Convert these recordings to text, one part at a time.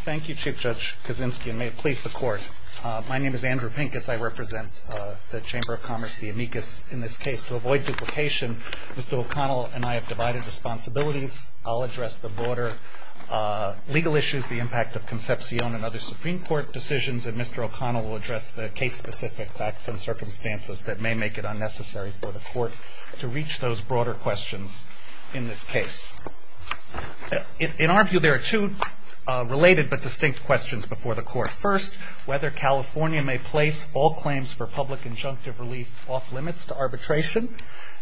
Thank you, Chief Judge Kaczynski, and may it please the Court, my name is Andrew Pincus. I represent the Chamber of Commerce, the amicus, in this case. To avoid duplication, Mr. O'Connell and I have divided responsibilities. I'll address the broader legal issues, the impact of Concepcion and other Supreme Court decisions, and Mr. O'Connell will address the case-specific facts and circumstances that may make it unnecessary for the Court to reach those broader questions in this case. In our view, there are two related but distinct questions before the Court. First, whether California may place all claims for public injunctive relief off-limits to arbitration.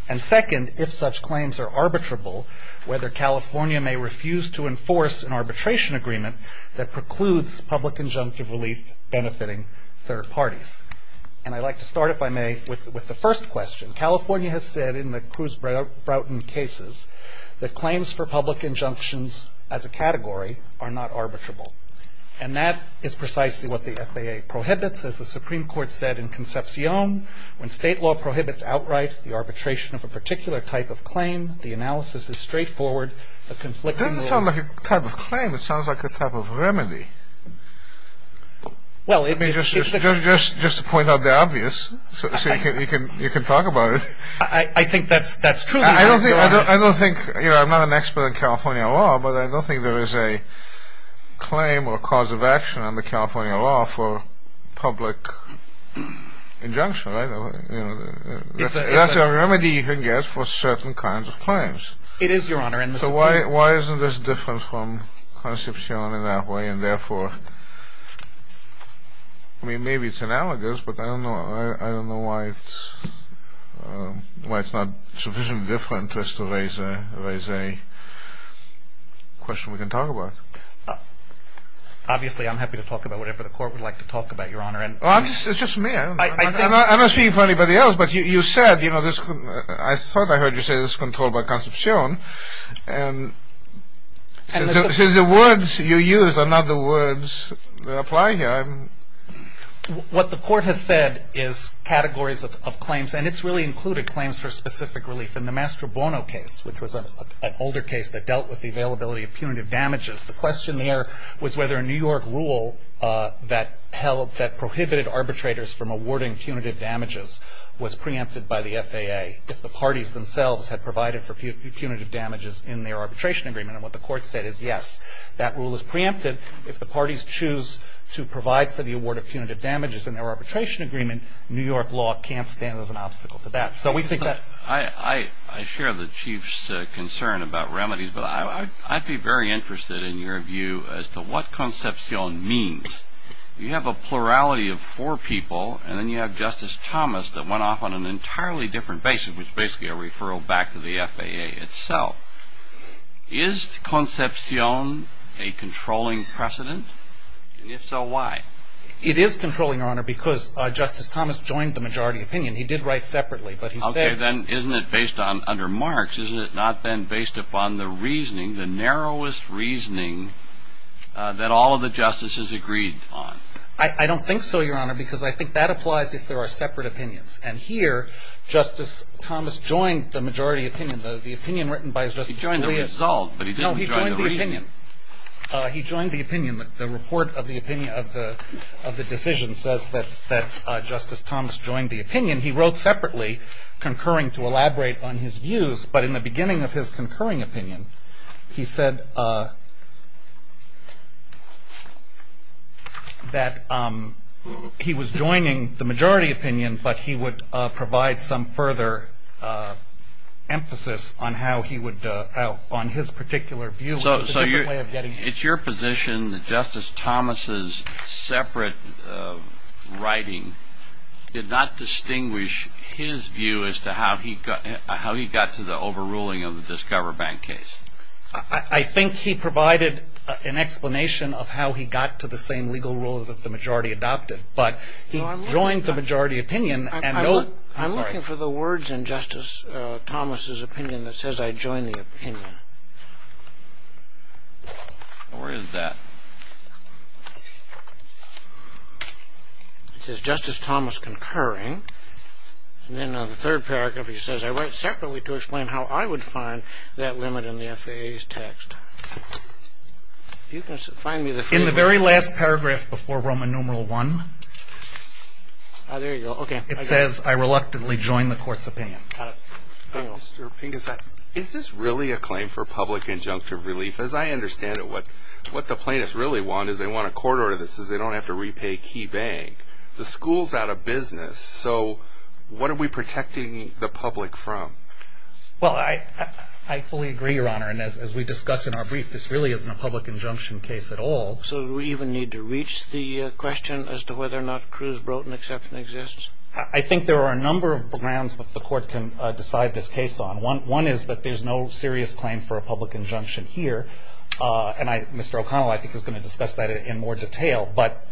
And second, if such claims are arbitrable, whether California may refuse to enforce an arbitration agreement that precludes public injunctive relief benefiting third parties. And I'd like to start, if I may, with the first question. California has said in the Cruz-Broughton cases that claims for public injunctions as a category are not arbitrable. And that is precisely what the FAA prohibits, as the Supreme Court said in Concepcion. When state law prohibits outright the arbitration of a particular type of claim, the analysis is straightforward, the conflicting rule... It doesn't sound like a type of claim, it sounds like a type of remedy. Well, it's... Just to point out the obvious, so you can talk about it. I think that's truly... I don't think, you know, I'm not an expert in California law, but I don't think there is a claim or cause of action under California law for public injunction, right? That's a remedy you can get for certain kinds of claims. It is, Your Honor. So why isn't this different from Concepcion in that way, and therefore... I mean, maybe it's analogous, but I don't know why it's not sufficiently different just to raise a question we can talk about. Obviously, I'm happy to talk about whatever the Court would like to talk about, Your Honor. Well, it's just me. I'm not speaking for anybody else, but you said, you know, this... And since the words you use are not the words that apply here, I'm... What the Court has said is categories of claims, and it's really included claims for specific relief. In the Mastro Bono case, which was an older case that dealt with the availability of punitive damages, the question there was whether a New York rule that prohibited arbitrators from awarding punitive damages was preempted by the FAA if the parties themselves had provided for punitive damages in their arbitration agreement. And what the Court said is, yes, that rule is preempted. If the parties choose to provide for the award of punitive damages in their arbitration agreement, New York law can't stand as an obstacle to that. So we think that... I share the Chief's concern about remedies, but I'd be very interested in your view as to what Concepcion means. Because you have a plurality of four people, and then you have Justice Thomas that went off on an entirely different basis, which is basically a referral back to the FAA itself. Is Concepcion a controlling precedent? And if so, why? It is controlling, Your Honor, because Justice Thomas joined the majority opinion. He did write separately, but he said... Okay, then isn't it based on... Under Marx, isn't it not then based upon the reasoning, the narrowest reasoning that all of the justices agreed on? I don't think so, Your Honor, because I think that applies if there are separate opinions. And here, Justice Thomas joined the majority opinion. The opinion written by Justice Scalia... He joined the result, but he didn't join the reasoning. No, he joined the opinion. He joined the opinion. The report of the decision says that Justice Thomas joined the opinion. He wrote separately, concurring to elaborate on his views. But in the beginning of his concurring opinion, he said that he was joining the majority opinion, but he would provide some further emphasis on his particular view. So it's your position that Justice Thomas's separate writing did not distinguish his view as to how he got to the overruling of the Discover Bank case? I think he provided an explanation of how he got to the same legal rule that the majority adopted, but he joined the majority opinion and no... I'm looking for the words in Justice Thomas's opinion that says, I joined the opinion. Where is that? It says, Justice Thomas concurring. And then on the third paragraph, he says, I write separately to explain how I would find that limit in the FAA's text. If you can find me the... In the very last paragraph before Roman numeral one... Ah, there you go. It says, I reluctantly joined the court's opinion. Got it. Mr. Pinkas, is this really a claim for public injunctive relief? As I understand it, what the plaintiffs really want is, they want a court order that says they don't have to repay key bank. The school's out of business, so what are we protecting the public from? Well, I fully agree, Your Honor, and as we discussed in our brief, this really isn't a public injunction case at all. So do we even need to reach the question as to whether or not Cruz-Broton exception exists? I think there are a number of grounds that the court can decide this case on. One is that there's no serious claim for a public injunction here. And Mr. O'Connell, I think, is going to discuss that in more detail. But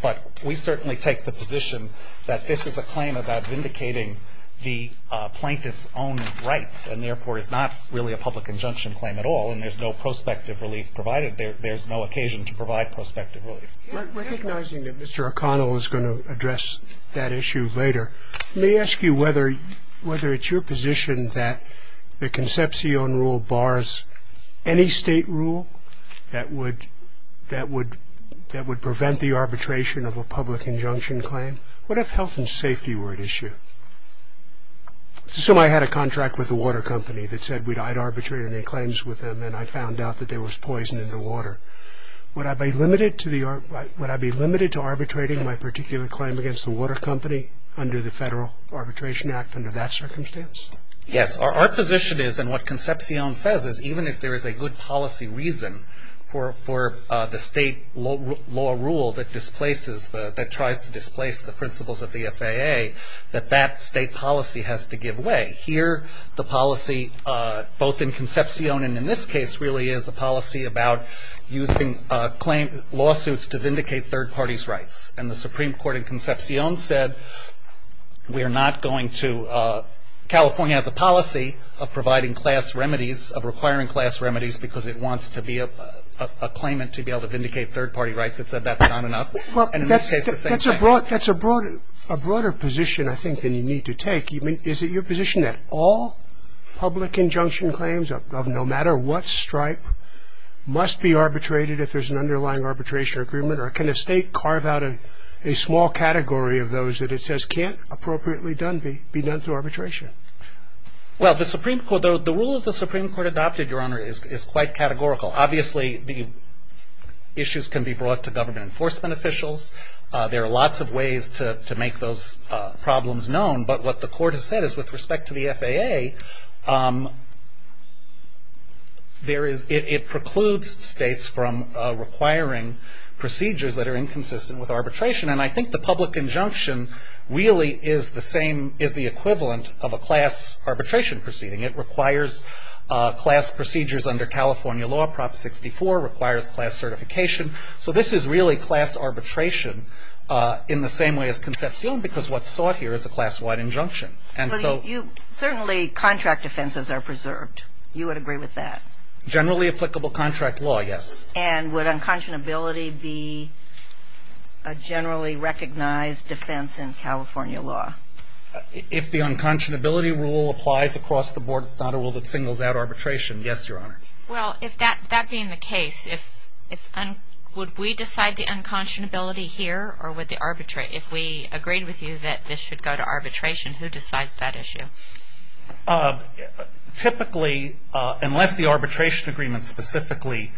we certainly take the position that this is a claim about vindicating the plaintiff's own rights and, therefore, is not really a public injunction claim at all, and there's no prospective relief provided. There's no occasion to provide prospective relief. Recognizing that Mr. O'Connell is going to address that issue later, let me ask you whether it's your position that the Concepcion rule bars any state rule that would prevent the arbitration of a public injunction claim? What if health and safety were at issue? Assume I had a contract with a water company that said I'd arbitrate any claims with them, and I found out that there was poison in the water. Would I be limited to arbitrating my particular claim against the water company under the Federal Arbitration Act under that circumstance? Yes. Our position is, and what Concepcion says, is even if there is a good policy reason for the state law rule that tries to displace the principles of the FAA, that that state policy has to give way. Here, the policy, both in Concepcion and in this case, really is a policy about using lawsuits to vindicate third parties' rights. And the Supreme Court in Concepcion said we are not going to, California has a policy of providing class remedies, of requiring class remedies, because it wants to be a claimant to be able to vindicate third party rights. It said that's not enough. And in this case, the same thing. That's a broader position, I think, than you need to take. Is it your position that all public injunction claims of no matter what stripe must be arbitrated if there's an underlying arbitration agreement, or can a state carve out a small category of those that it says can't appropriately be done through arbitration? Well, the rule of the Supreme Court adopted, Your Honor, is quite categorical. Obviously, the issues can be brought to government enforcement officials. There are lots of ways to make those problems known. But what the court has said is with respect to the FAA, it precludes states from requiring procedures that are inconsistent with arbitration. And I think the public injunction really is the equivalent of a class arbitration proceeding. It requires class procedures under California law. Prop 64 requires class certification. So this is really class arbitration in the same way as Concepcion, because what's sought here is a class-wide injunction. Certainly contract offenses are preserved. You would agree with that? Generally applicable contract law, yes. And would unconscionability be a generally recognized defense in California law? If the unconscionability rule applies across the board, it's not a rule that singles out arbitration, yes, Your Honor. Well, that being the case, would we decide the unconscionability here, or if we agreed with you that this should go to arbitration, who decides that issue? Typically, unless the arbitration agreement specifically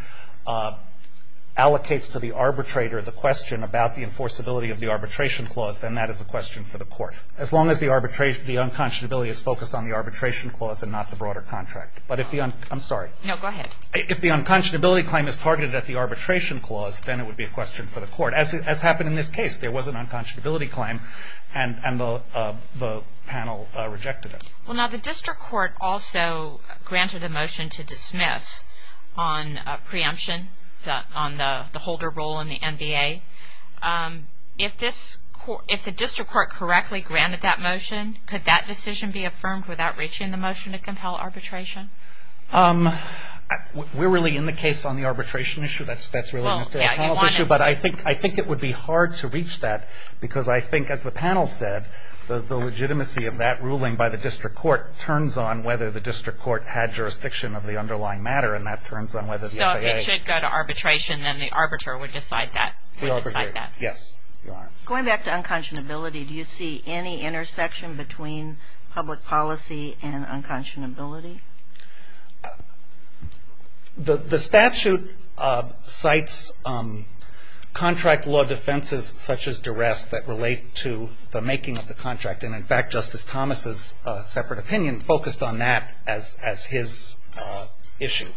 allocates to the arbitrator the question about the enforceability of the arbitration clause, then that is a question for the court. As long as the unconscionability is focused on the arbitration clause and not the broader contract. I'm sorry. No, go ahead. If the unconscionability claim is targeted at the arbitration clause, then it would be a question for the court. As happened in this case, there was an unconscionability claim, and the panel rejected it. Well, now the district court also granted a motion to dismiss on preemption, on the holder role in the NBA. If the district court correctly granted that motion, could that decision be affirmed without reaching the motion to compel arbitration? We're really in the case on the arbitration issue. That's really a policy issue, but I think it would be hard to reach that because I think, as the panel said, the legitimacy of that ruling by the district court turns on whether the district court had jurisdiction of the underlying matter, and that turns on whether the NBA. So if it should go to arbitration, then the arbiter would decide that. We all agree. Yes. Going back to unconscionability, do you see any intersection between public policy and unconscionability? The statute cites contract law defenses such as duress that relate to the making of the contract, and in fact Justice Thomas' separate opinion focused on that as his issue,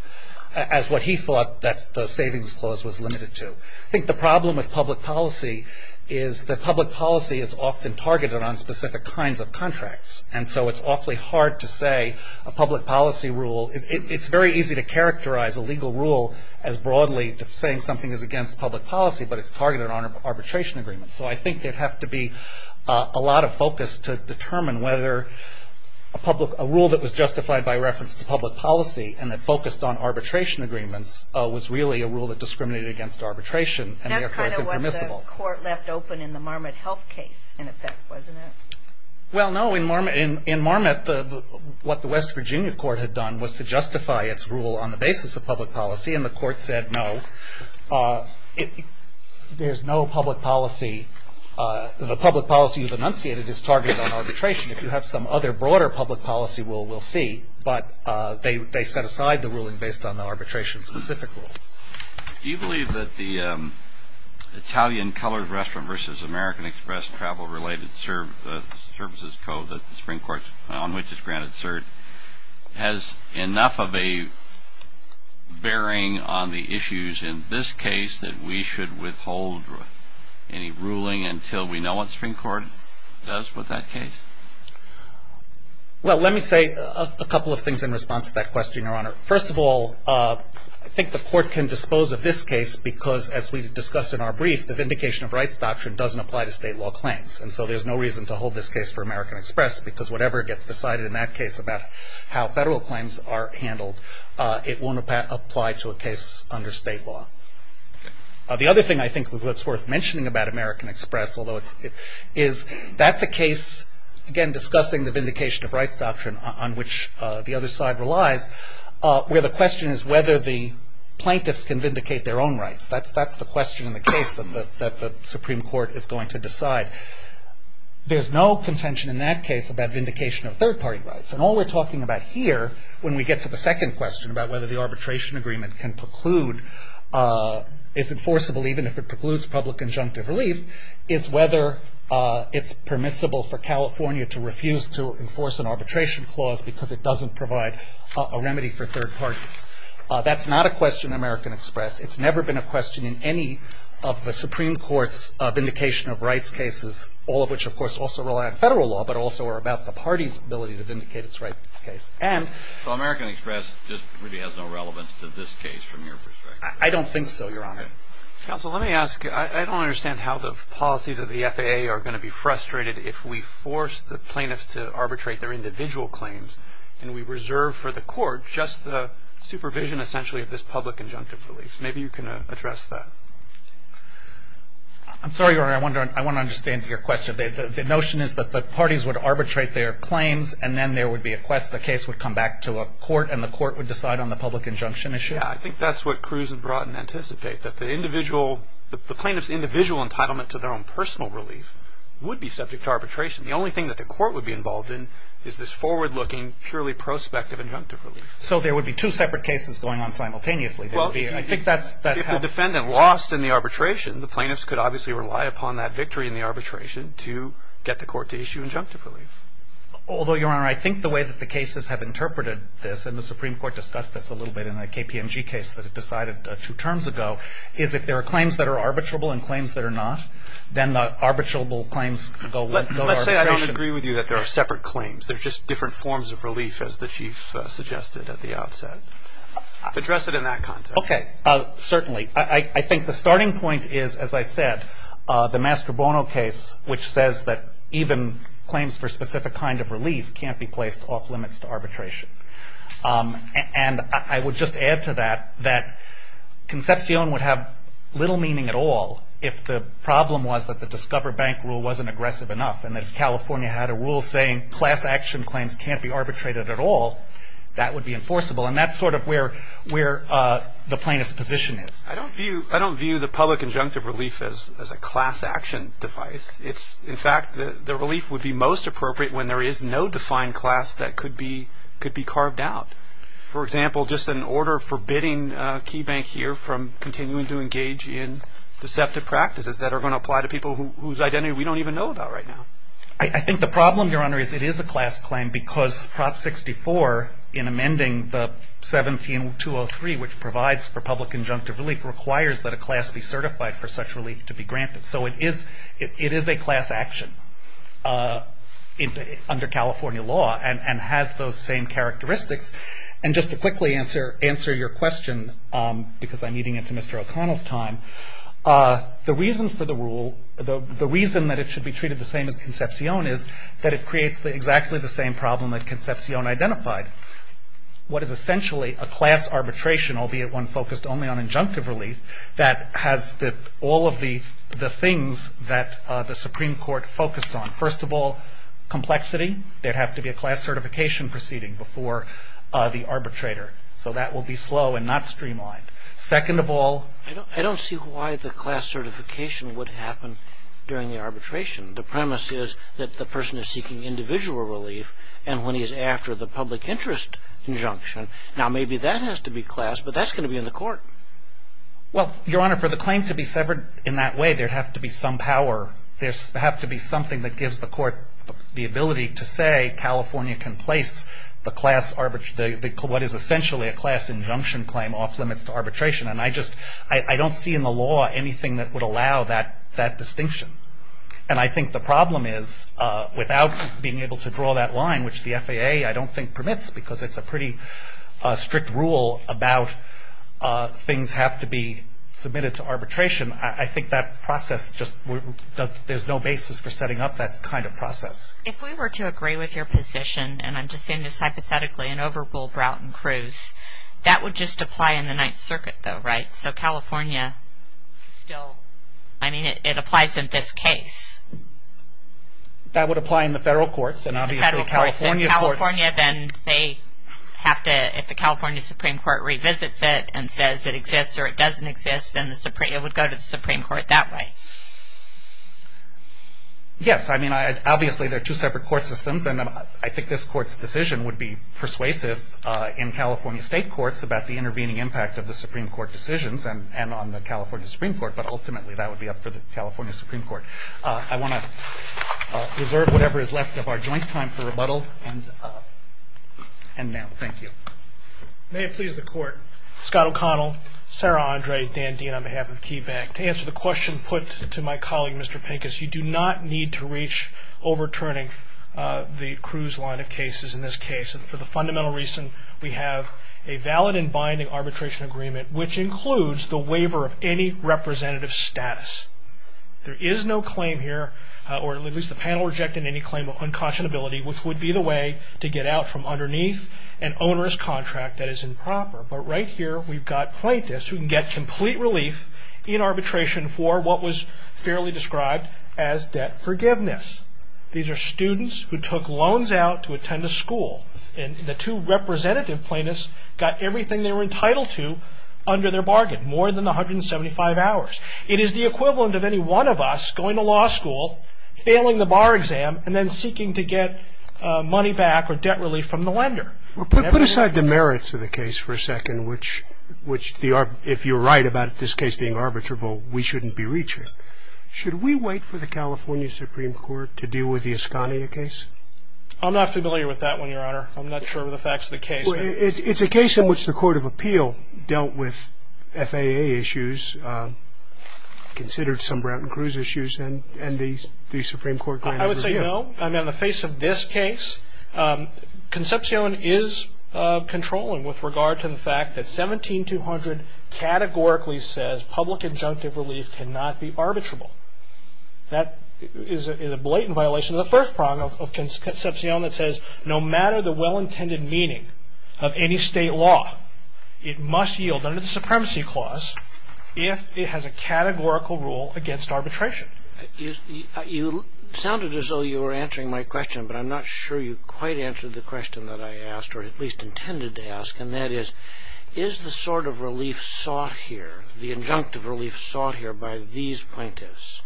as what he thought that the savings clause was limited to. I think the problem with public policy is that public policy is often targeted on specific kinds of contracts, and so it's awfully hard to say a public policy rule. It's very easy to characterize a legal rule as broadly saying something is against public policy, but it's targeted on arbitration agreements. So I think there would have to be a lot of focus to determine whether a rule that was justified by reference to public policy and that focused on arbitration agreements was really a rule that discriminated against arbitration. That's kind of what the court left open in the Marmot Health case, in effect, wasn't it? Well, no. In Marmot, what the West Virginia court had done was to justify its rule on the basis of public policy, and the court said no, there's no public policy. The public policy you've enunciated is targeted on arbitration. If you have some other broader public policy rule, we'll see, but they set aside the ruling based on the arbitration-specific rule. Do you believe that the Italian colored restaurant versus American Express travel-related services code that the Supreme Court, on which it's granted cert, has enough of a bearing on the issues in this case that we should withhold any ruling until we know what the Supreme Court does with that case? Well, let me say a couple of things in response to that question, Your Honor. First of all, I think the court can dispose of this case because, as we discussed in our brief, the Vindication of Rights Doctrine doesn't apply to state law claims, and so there's no reason to hold this case for American Express because whatever gets decided in that case about how federal claims are handled, it won't apply to a case under state law. The other thing I think that's worth mentioning about American Express, is that's a case, again, discussing the Vindication of Rights Doctrine, on which the other side relies, where the question is whether the plaintiffs can vindicate their own rights. That's the question in the case that the Supreme Court is going to decide. There's no contention in that case about vindication of third-party rights, and all we're talking about here, when we get to the second question, about whether the arbitration agreement can preclude, is enforceable even if it precludes public injunctive relief, is whether it's permissible for California to refuse to enforce an arbitration clause because it doesn't provide a remedy for third parties. That's not a question in American Express. It's never been a question in any of the Supreme Court's vindication of rights cases, all of which, of course, also rely on federal law, but also are about the party's ability to vindicate its rights case. So American Express just really has no relevance to this case from your perspective? I don't think so, Your Honor. Counsel, let me ask. I don't understand how the policies of the FAA are going to be frustrated if we force the plaintiffs to arbitrate their individual claims, and we reserve for the court just the supervision, essentially, of this public injunctive relief. Maybe you can address that. I'm sorry, Your Honor. I want to understand your question. The notion is that the parties would arbitrate their claims, and then there would be a quest. The case would come back to a court, and the court would decide on the public injunction issue? Yeah. I think that's what Cruz and Broughton anticipate, that the plaintiff's individual entitlement to their own personal relief would be subject to arbitration. The only thing that the court would be involved in is this forward-looking, purely prospective injunctive relief. So there would be two separate cases going on simultaneously? Well, if the defendant lost in the arbitration, the plaintiffs could obviously rely upon that victory in the arbitration to get the court to issue injunctive relief. Although, Your Honor, I think the way that the cases have interpreted this, and the Supreme Court discussed this a little bit in the KPMG case that it decided two terms ago, is if there are claims that are arbitrable and claims that are not, then the arbitrable claims go to arbitration. Let's say I don't agree with you that there are separate claims. There are just different forms of relief, as the Chief suggested at the outset. Address it in that context. Okay. Certainly. I think the starting point is, as I said, the Mastrobono case, which says that even claims for a specific kind of relief can't be placed off limits to arbitration. And I would just add to that, that concepcion would have little meaning at all if the problem was that the Discover Bank rule wasn't aggressive enough, and that if California had a rule saying class action claims can't be arbitrated at all, that would be enforceable. And that's sort of where the plaintiff's position is. I don't view the public injunctive relief as a class action device. In fact, the relief would be most appropriate when there is no defined class that could be carved out. For example, just an order forbidding KeyBank here from continuing to engage in deceptive practices that are going to apply to people whose identity we don't even know about right now. I think the problem, Your Honor, is it is a class claim because Prop 64, in amending the 17203, which provides for public injunctive relief, requires that a class be certified for such relief to be granted. So it is a class action under California law, and has those same characteristics. And just to quickly answer your question, because I'm eating into Mr. O'Connell's time, the reason for the rule, the reason that it should be treated the same as Concepcion is that it creates exactly the same problem that Concepcion identified. What is essentially a class arbitration, albeit one focused only on injunctive relief, that has all of the things that the Supreme Court focused on. First of all, complexity. There would have to be a class certification proceeding before the arbitrator. So that will be slow and not streamlined. Second of all... I don't see why the class certification would happen during the arbitration. The premise is that the person is seeking individual relief, and when he is after the public interest injunction, now maybe that has to be class, but that's going to be in the court. Well, Your Honor, for the claim to be severed in that way, there would have to be some power, there would have to be something that gives the court the ability to say California can place the class arbitration, what is essentially a class injunction claim off limits to arbitration. I don't see in the law anything that would allow that distinction. And I think the problem is, without being able to draw that line, which the FAA I don't think permits, because it's a pretty strict rule about things have to be submitted to arbitration, I think that process just... there's no basis for setting up that kind of process. If we were to agree with your position, and I'm just saying this hypothetically, and overrule Broughton-Cruz, that would just apply in the Ninth Circuit though, right? So California still... I mean, it applies in this case. That would apply in the federal courts, and obviously California courts... In California, then they have to... if the California Supreme Court revisits it and says it exists or it doesn't exist, then it would go to the Supreme Court that way. Yes, I mean, obviously there are two separate court systems, and I think this court's decision would be persuasive in California state courts about the intervening impact of the Supreme Court decisions and on the California Supreme Court, but ultimately that would be up for the California Supreme Court. I want to reserve whatever is left of our joint time for rebuttal and now. Thank you. May it please the Court. Scott O'Connell, Sarah Andre, Dan Dean on behalf of KeyBank. To answer the question put to my colleague, Mr. Pincus, you do not need to reach overturning the Cruz line of cases in this case, and for the fundamental reason we have a valid and binding arbitration agreement which includes the waiver of any representative status. There is no claim here, or at least the panel rejected any claim of unconscionability, which would be the way to get out from underneath an onerous contract that is improper, but right here we've got plaintiffs who can get complete relief in arbitration for what was fairly described as debt forgiveness. These are students who took loans out to attend a school, and the two representative plaintiffs got everything they were entitled to under their bargain, more than the 175 hours. It is the equivalent of any one of us going to law school, failing the bar exam, and then seeking to get money back or debt relief from the lender. Put aside the merits of the case for a second, which if you're right about this case being arbitrable, we shouldn't be reaching, should we wait for the California Supreme Court to deal with the Asconia case? I'm not familiar with that one, Your Honor. I'm not sure of the facts of the case. It's a case in which the Court of Appeal dealt with FAA issues, considered some Brown and Cruz issues, and the Supreme Court granted a review. I would say no. In the face of this case, Concepcion is controlling with regard to the fact that 17200 categorically says public injunctive relief cannot be arbitrable. That is a blatant violation of the first prong of Concepcion that says, no matter the well-intended meaning of any state law, it must yield under the Supremacy Clause if it has a categorical rule against arbitration. You sounded as though you were answering my question, but I'm not sure you quite answered the question that I asked, or at least intended to ask, and that is, is the sort of relief sought here, the injunctive relief sought here by these plaintiffs,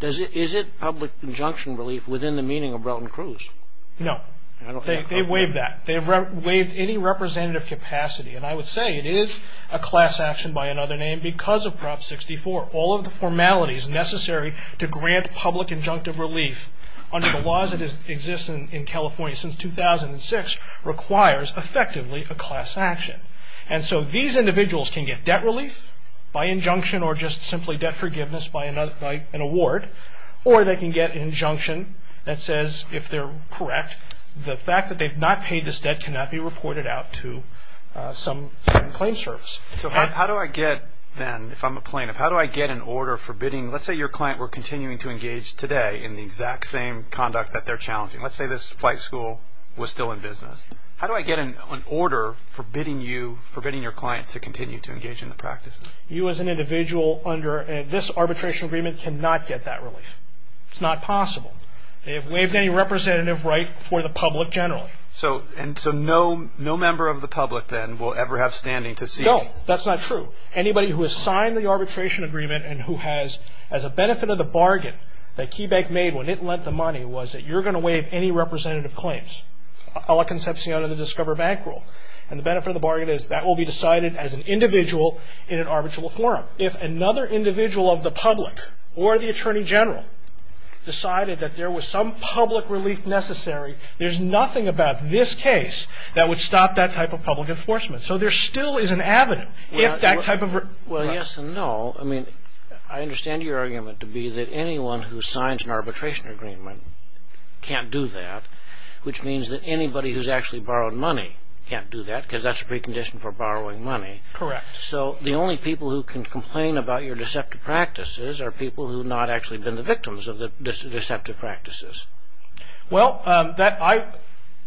is it public injunction relief within the meaning of Brown and Cruz? No. I don't think so. They waive that. They have waived any representative capacity, and I would say it is a class action by another name because of Prop 64. All of the formalities necessary to grant public injunctive relief under the laws that exist in California since 2006 requires, effectively, a class action. And so these individuals can get debt relief by injunction or just simply debt forgiveness by an award, or they can get an injunction that says, if they're correct, the fact that they've not paid this debt cannot be reported out to some claim service. So how do I get, then, if I'm a plaintiff, how do I get an order forbidding? Let's say your client were continuing to engage today in the exact same conduct that they're challenging. Let's say this flight school was still in business. How do I get an order forbidding you, forbidding your client to continue to engage in the practice? You as an individual under this arbitration agreement cannot get that relief. It's not possible. They have waived any representative right for the public generally. No, that's not true. Anybody who has signed the arbitration agreement and who has, as a benefit of the bargain that KeyBank made when it lent the money, was that you're going to waive any representative claims, a la concepcion of the Discover Bank rule. And the benefit of the bargain is that will be decided as an individual in an arbitral forum. If another individual of the public or the attorney general decided that there was some public relief necessary, there's nothing about this case that would stop that type of public enforcement. So there still is an avenue. Well, yes and no. I mean, I understand your argument to be that anyone who signs an arbitration agreement can't do that, which means that anybody who's actually borrowed money can't do that because that's a precondition for borrowing money. Correct. So the only people who can complain about your deceptive practices are people who have not actually been the victims of the deceptive practices. Well, I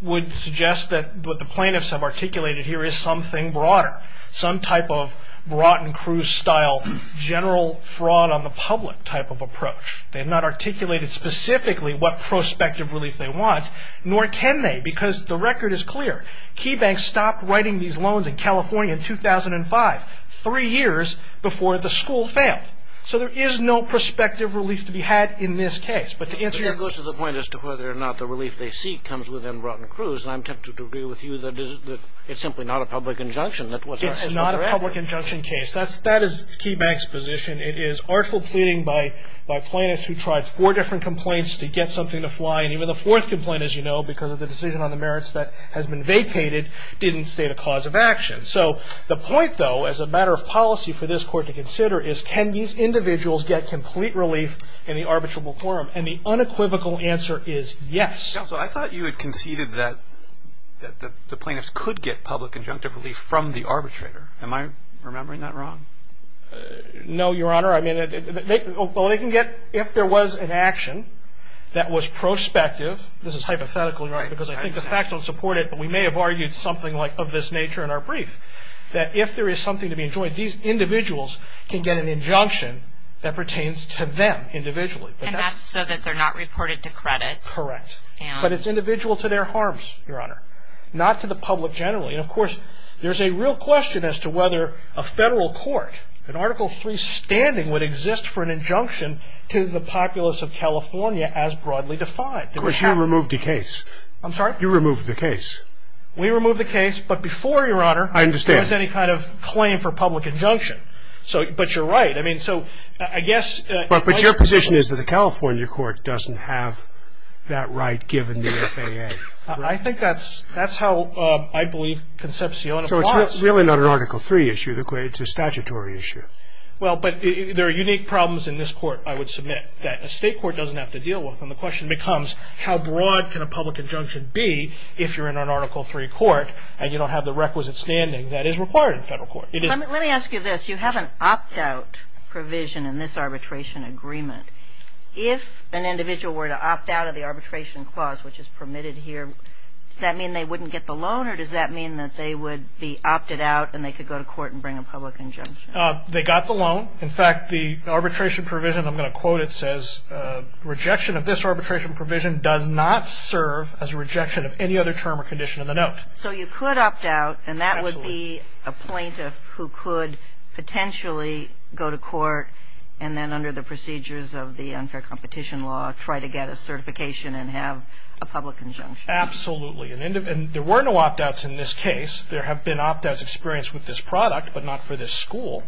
would suggest that what the plaintiffs have articulated here is something broader, some type of Broughton Cruz-style general fraud on the public type of approach. They have not articulated specifically what prospective relief they want, nor can they because the record is clear. KeyBank stopped writing these loans in California in 2005, three years before the school failed. So there is no prospective relief to be had in this case. That goes to the point as to whether or not the relief they seek comes within Broughton Cruz, and I'm tempted to agree with you that it's simply not a public injunction. It's not a public injunction case. That is KeyBank's position. It is artful pleading by plaintiffs who tried four different complaints to get something to fly, and even the fourth complaint, as you know, because of the decision on the merits that has been vacated, didn't state a cause of action. So the point, though, as a matter of policy for this Court to consider is can these individuals get complete relief in the arbitrable quorum? And the unequivocal answer is yes. Counsel, I thought you had conceded that the plaintiffs could get public injunctive relief from the arbitrator. Am I remembering that wrong? No, Your Honor. I mean, well, they can get if there was an action that was prospective. This is hypothetical, Your Honor, because I think the facts don't support it, but we may have argued something like of this nature in our brief, that if there is something to be enjoined, these individuals can get an injunction that pertains to them individually. And that's so that they're not reported to credit? Correct. But it's individual to their harms, Your Honor, not to the public generally. And, of course, there's a real question as to whether a federal court, an Article III standing would exist for an injunction to the populace of California as broadly defined. Of course, you removed the case. I'm sorry? You removed the case. We removed the case, but before, Your Honor, there was any kind of claim for public injunction. But you're right. But your position is that the California court doesn't have that right given the FAA? I think that's how I believe Concepcion applies. So it's really not an Article III issue. It's a statutory issue. Well, but there are unique problems in this court, I would submit, that a state court doesn't have to deal with. And the question becomes how broad can a public injunction be if you're in an Article III court and you don't have the requisite standing that is required in a federal court? Let me ask you this. You have an opt-out provision in this arbitration agreement. If an individual were to opt out of the arbitration clause, which is permitted here, does that mean they wouldn't get the loan or does that mean that they would be opted out and they could go to court and bring a public injunction? They got the loan. In fact, the arbitration provision, I'm going to quote it, says, rejection of this arbitration provision does not serve as a rejection of any other term or condition in the note. So you could opt out and that would be a plaintiff who could potentially go to court and then under the procedures of the unfair competition law try to get a certification and have a public injunction. Absolutely. And there were no opt-outs in this case. There have been opt-outs experienced with this product but not for this school.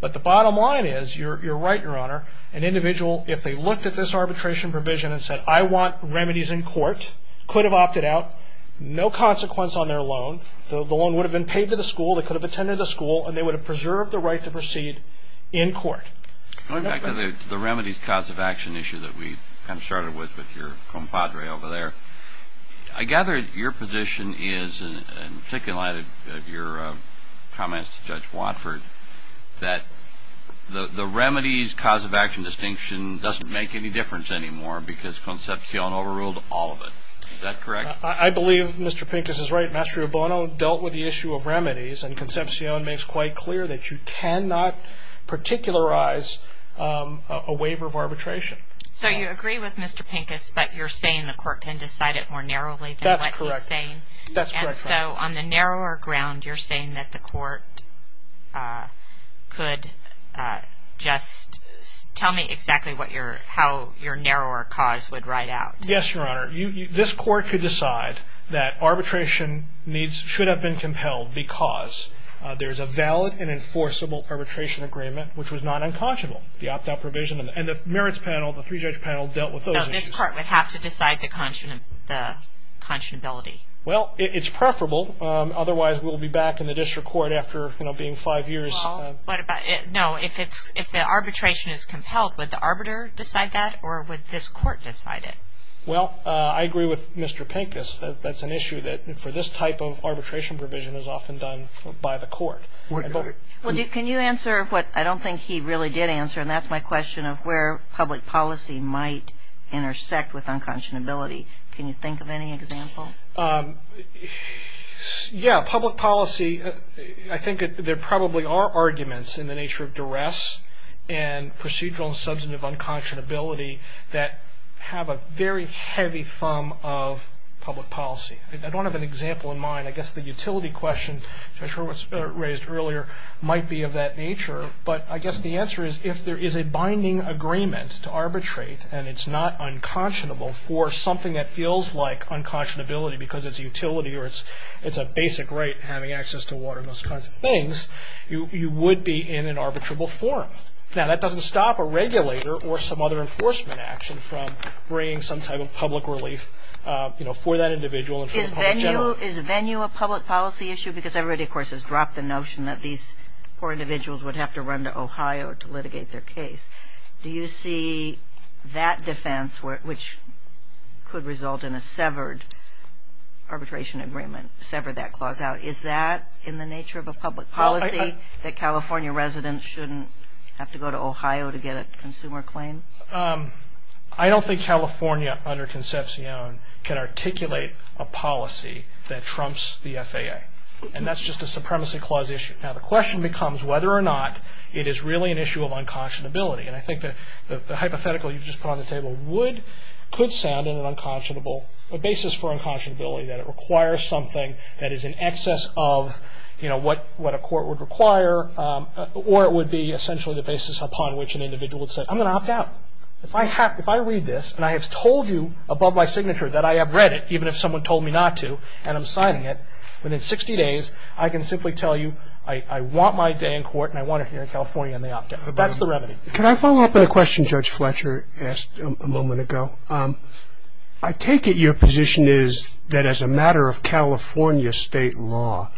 But the bottom line is, you're right, Your Honor, an individual, if they looked at this arbitration provision and said, I want remedies in court, could have opted out. No consequence on their loan. The loan would have been paid to the school, they could have attended a school, and they would have preserved the right to proceed in court. Going back to the remedies cause of action issue that we kind of started with, with your compadre over there, I gather your position is, and particularly in light of your comments to Judge Watford, that the remedies cause of action distinction doesn't make any difference anymore because Concepcion overruled all of it. Is that correct? I believe Mr. Pincus is right. Mastro Bono dealt with the issue of remedies and Concepcion makes quite clear that you cannot particularize a waiver of arbitration. So you agree with Mr. Pincus, but you're saying the court can decide it more narrowly than what he's saying? That's correct. And so on the narrower ground, you're saying that the court could just tell me exactly how your narrower cause would ride out? Yes, Your Honor. This court could decide that arbitration should have been compelled because there's a valid and enforceable arbitration agreement, which was not unconscionable. The opt-out provision and the merits panel, the three-judge panel, dealt with those issues. So this court would have to decide the conscionability? Well, it's preferable. Otherwise, we'll be back in the district court after being five years. No, if the arbitration is compelled, would the arbiter decide that or would this court decide it? Well, I agree with Mr. Pincus. That's an issue that for this type of arbitration provision is often done by the court. Can you answer what I don't think he really did answer, and that's my question of where public policy might intersect with unconscionability. Can you think of any example? Yeah, public policy. I think there probably are arguments in the nature of duress and procedural and substantive unconscionability that have a very heavy thumb of public policy. I don't have an example in mind. I guess the utility question, which I'm sure was raised earlier, might be of that nature, but I guess the answer is if there is a binding agreement to arbitrate and it's not unconscionable for something that feels like unconscionability because it's a utility or it's a basic right, having access to water and those kinds of things, you would be in an arbitrable forum. Now, that doesn't stop a regulator or some other enforcement action from bringing some type of public relief for that individual and for the public generally. Is venue a public policy issue? Because everybody, of course, has dropped the notion that these poor individuals would have to run to Ohio to litigate their case. Do you see that defense, which could result in a severed arbitration agreement, sever that clause out, is that in the nature of a public policy that California residents shouldn't have to go to Ohio to get a consumer claim? I don't think California, under Concepcion, can articulate a policy that trumps the FAA. And that's just a supremacy clause issue. Now, the question becomes whether or not it is really an issue of unconscionability. And I think the hypothetical you just put on the table could sound in an unconscionable basis for unconscionability, that it requires something that is in excess of what a court would require or it would be essentially the basis upon which an individual would say, I'm going to opt out. If I read this and I have told you above my signature that I have read it, even if someone told me not to and I'm signing it, within 60 days I can simply tell you I want my day in court and I want it here in California and they opt out. But that's the remedy. Can I follow up on a question Judge Fletcher asked a moment ago? I take it your position is that as a matter of California state law,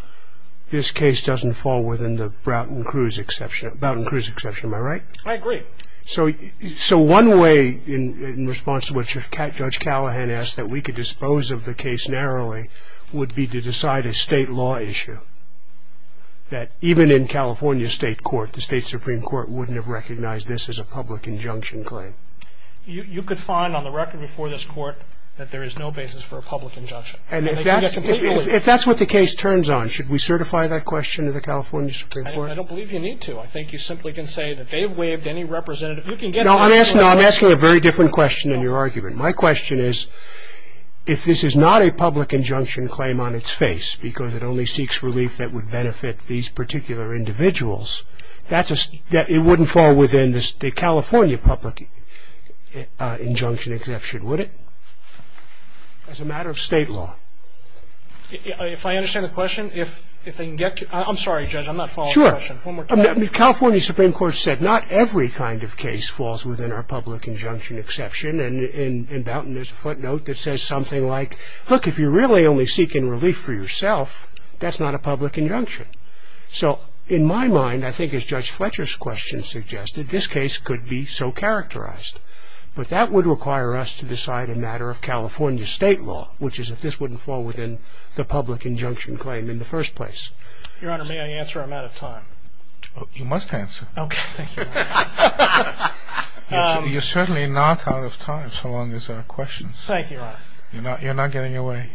this case doesn't fall within the Broughton-Cruz exception, am I right? I agree. So one way in response to what Judge Callahan asked, that we could dispose of the case narrowly, would be to decide a state law issue that even in California state court, the state Supreme Court wouldn't have recognized this as a public injunction claim. You could find on the record before this court that there is no basis for a public injunction. And if that's what the case turns on, should we certify that question to the California Supreme Court? I don't believe you need to. I think you simply can say that they've waived any representative. No, I'm asking a very different question than your argument. My question is, if this is not a public injunction claim on its face, because it only seeks relief that would benefit these particular individuals, it wouldn't fall within the California public injunction exception, would it? As a matter of state law. If I understand the question, if they can get to it. I'm sorry, Judge, I'm not following the question. Sure. California Supreme Court said not every kind of case falls within our public injunction exception. And in Bounton there's a footnote that says something like, look, if you're really only seeking relief for yourself, that's not a public injunction. So in my mind, I think as Judge Fletcher's question suggested, this case could be so characterized. But that would require us to decide a matter of California state law, which is if this wouldn't fall within the public injunction claim in the first place. Your Honor, may I answer? I'm out of time. You must answer. Okay. Thank you. You're certainly not out of time, so long as there are questions. Thank you, Your Honor. You're not getting away.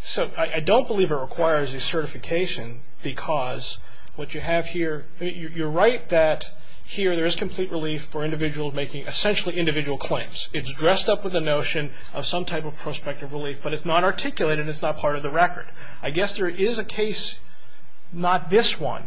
So I don't believe it requires a certification because what you have here, you're right that here there is complete relief for individuals making essentially individual claims. It's dressed up with the notion of some type of prospective relief, but it's not articulated and it's not part of the record. I guess there is a case, not this one,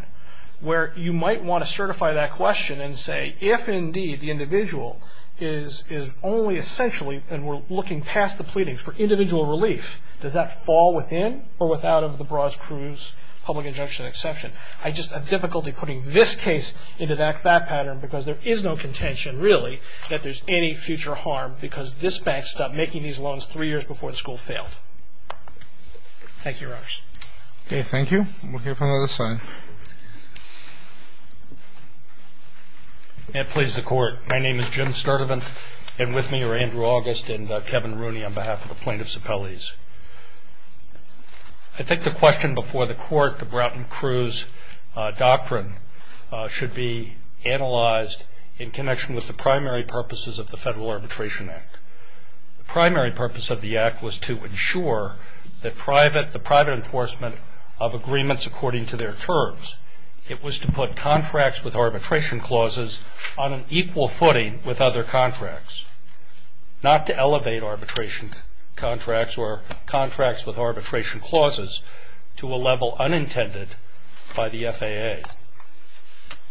where you might want to certify that question and say if indeed the individual is only essentially, and we're looking past the pleading, for individual relief, does that fall within or without of the Braz Cruz public injunction exception? I just have difficulty putting this case into that pattern because there is no contention really that there's any future harm because this bank stopped making these loans three years before the school failed. Thank you, Your Honor. Okay. Thank you. We'll hear from the other side. May it please the Court. My name is Jim Sturtevant, and with me are Andrew August and Kevin Rooney on behalf of the plaintiffs' appellees. I think the question before the Court, the Broughton Cruz doctrine, should be analyzed in connection with the primary purposes of the Federal Arbitration Act. The primary purpose of the Act was to ensure the private enforcement of agreements according to their terms. It was to put contracts with arbitration clauses on an equal footing with other contracts, not to elevate arbitration contracts or contracts with arbitration clauses to a level unintended by the FAA.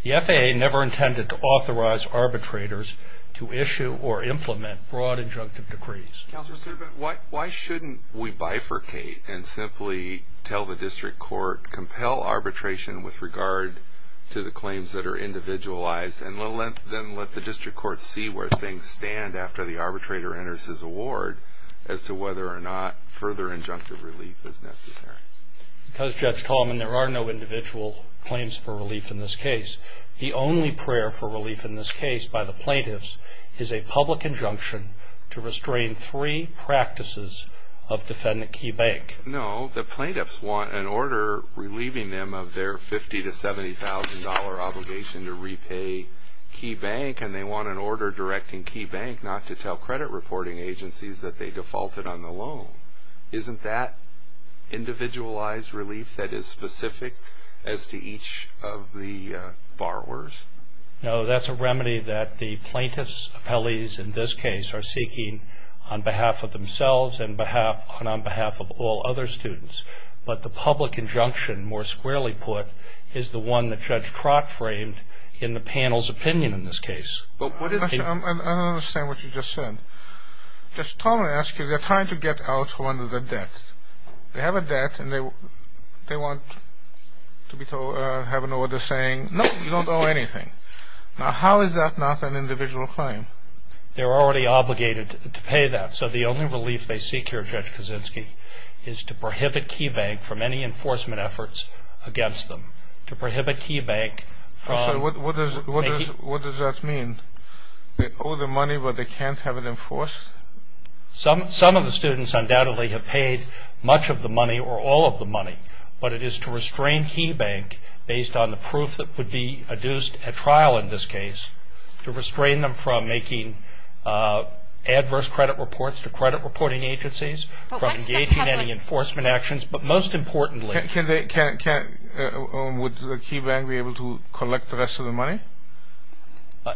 The FAA never intended to authorize arbitrators to issue or implement broad injunctive decrees. Counselor Sturtevant, why shouldn't we bifurcate and simply tell the district court compel arbitration with regard to the claims that are individualized and then let the district court see where things stand after the arbitrator enters his award as to whether or not further injunctive relief is necessary? Because, Judge Tallman, there are no individual claims for relief in this case. The only prayer for relief in this case by the plaintiffs is a public injunction to restrain three practices of defendant Key Bank. No, the plaintiffs want an order relieving them of their $50,000 to $70,000 obligation to repay Key Bank, and they want an order directing Key Bank not to tell credit reporting agencies that they defaulted on the loan. Isn't that individualized relief that is specific as to each of the borrowers? No, that's a remedy that the plaintiffs' appellees in this case are seeking on behalf of themselves and on behalf of all other students. But the public injunction, more squarely put, is the one that Judge Trott framed in the panel's opinion in this case. I don't understand what you just said. Judge Tallman, I ask you, they're trying to get out from under the debt. They have a debt and they want to have an order saying, no, you don't owe anything. Now, how is that not an individual claim? They're already obligated to pay that, so the only relief they seek here, Judge Kaczynski, is to prohibit Key Bank from any enforcement efforts against them. To prohibit Key Bank from... What does that mean? They owe the money, but they can't have it enforced? Some of the students undoubtedly have paid much of the money or all of the money, but it is to restrain Key Bank, based on the proof that would be adduced at trial in this case, to restrain them from making adverse credit reports to credit reporting agencies, from engaging in any enforcement actions, but most importantly... Would Key Bank be able to collect the rest of the money?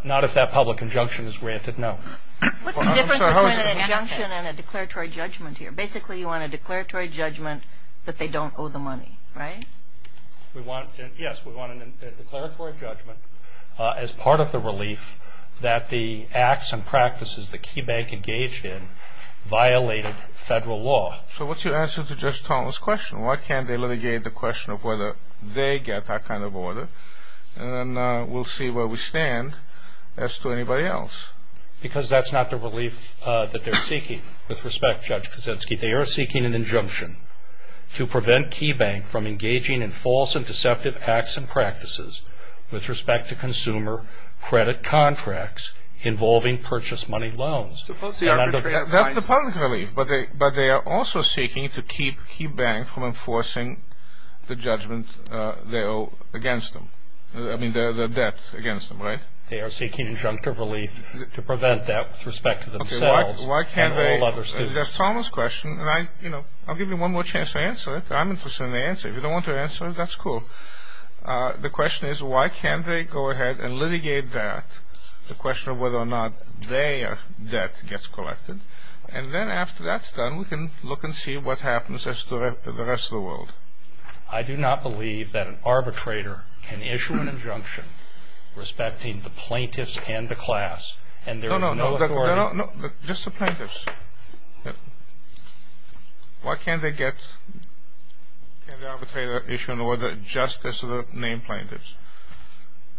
Not if that public injunction is granted, no. What's the difference between an injunction and a declaratory judgment here? Basically, you want a declaratory judgment that they don't owe the money, right? Yes, we want a declaratory judgment as part of the relief that the acts and practices that Key Bank engaged in violated federal law. So what's your answer to Judge Tallman's question? Why can't they litigate the question of whether they get that kind of order? And we'll see where we stand as to anybody else. Because that's not the relief that they're seeking. With respect, Judge Kuczynski, they are seeking an injunction to prevent Key Bank from engaging in false and deceptive acts and practices with respect to consumer credit contracts involving purchase money loans. That's the public relief, but they are also seeking to keep Key Bank from enforcing the judgment they owe against them. I mean, the debt against them, right? They are seeking injunctive relief to prevent that with respect to themselves and all other students. That's Tallman's question, and I'll give you one more chance to answer it. I'm interested in the answer. If you don't want to answer it, that's cool. The question is, why can't they go ahead and litigate that, the question of whether or not their debt gets collected, and then after that's done, we can look and see what happens as to the rest of the world. I do not believe that an arbitrator can issue an injunction respecting the plaintiffs and the class, and there is no authority... No, no, no, just the plaintiffs. Why can't they get the arbitrator to issue an order just as to name plaintiffs?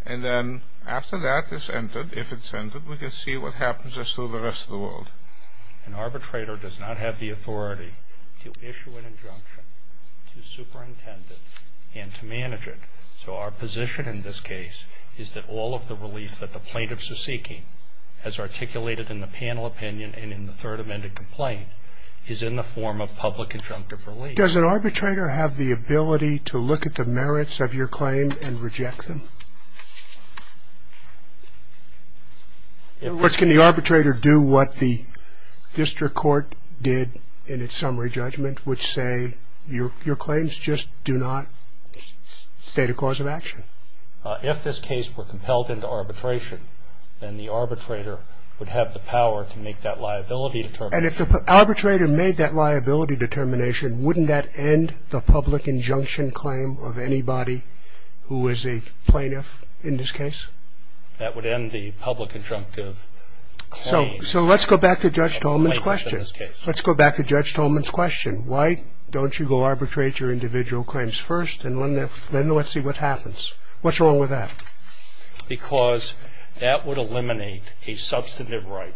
And then after that is ended, if it's ended, we can see what happens as to the rest of the world. An arbitrator does not have the authority to issue an injunction, to superintend it, and to manage it. So our position in this case is that all of the relief that the plaintiffs are seeking, as articulated in the panel opinion and in the third amended complaint, is in the form of public injunctive relief. Does an arbitrator have the ability to look at the merits of your claim and reject them? In other words, can the arbitrator do what the district court did in its summary judgment, which say your claims just do not state a cause of action? If this case were compelled into arbitration, then the arbitrator would have the power to make that liability determination. And if the arbitrator made that liability determination, wouldn't that end the public injunction claim of anybody who is a plaintiff in this case? That would end the public injunctive claim. So let's go back to Judge Tolman's question. Let's go back to Judge Tolman's question. Why don't you go arbitrate your individual claims first, and then let's see what happens. What's wrong with that? Because that would eliminate a substantive right.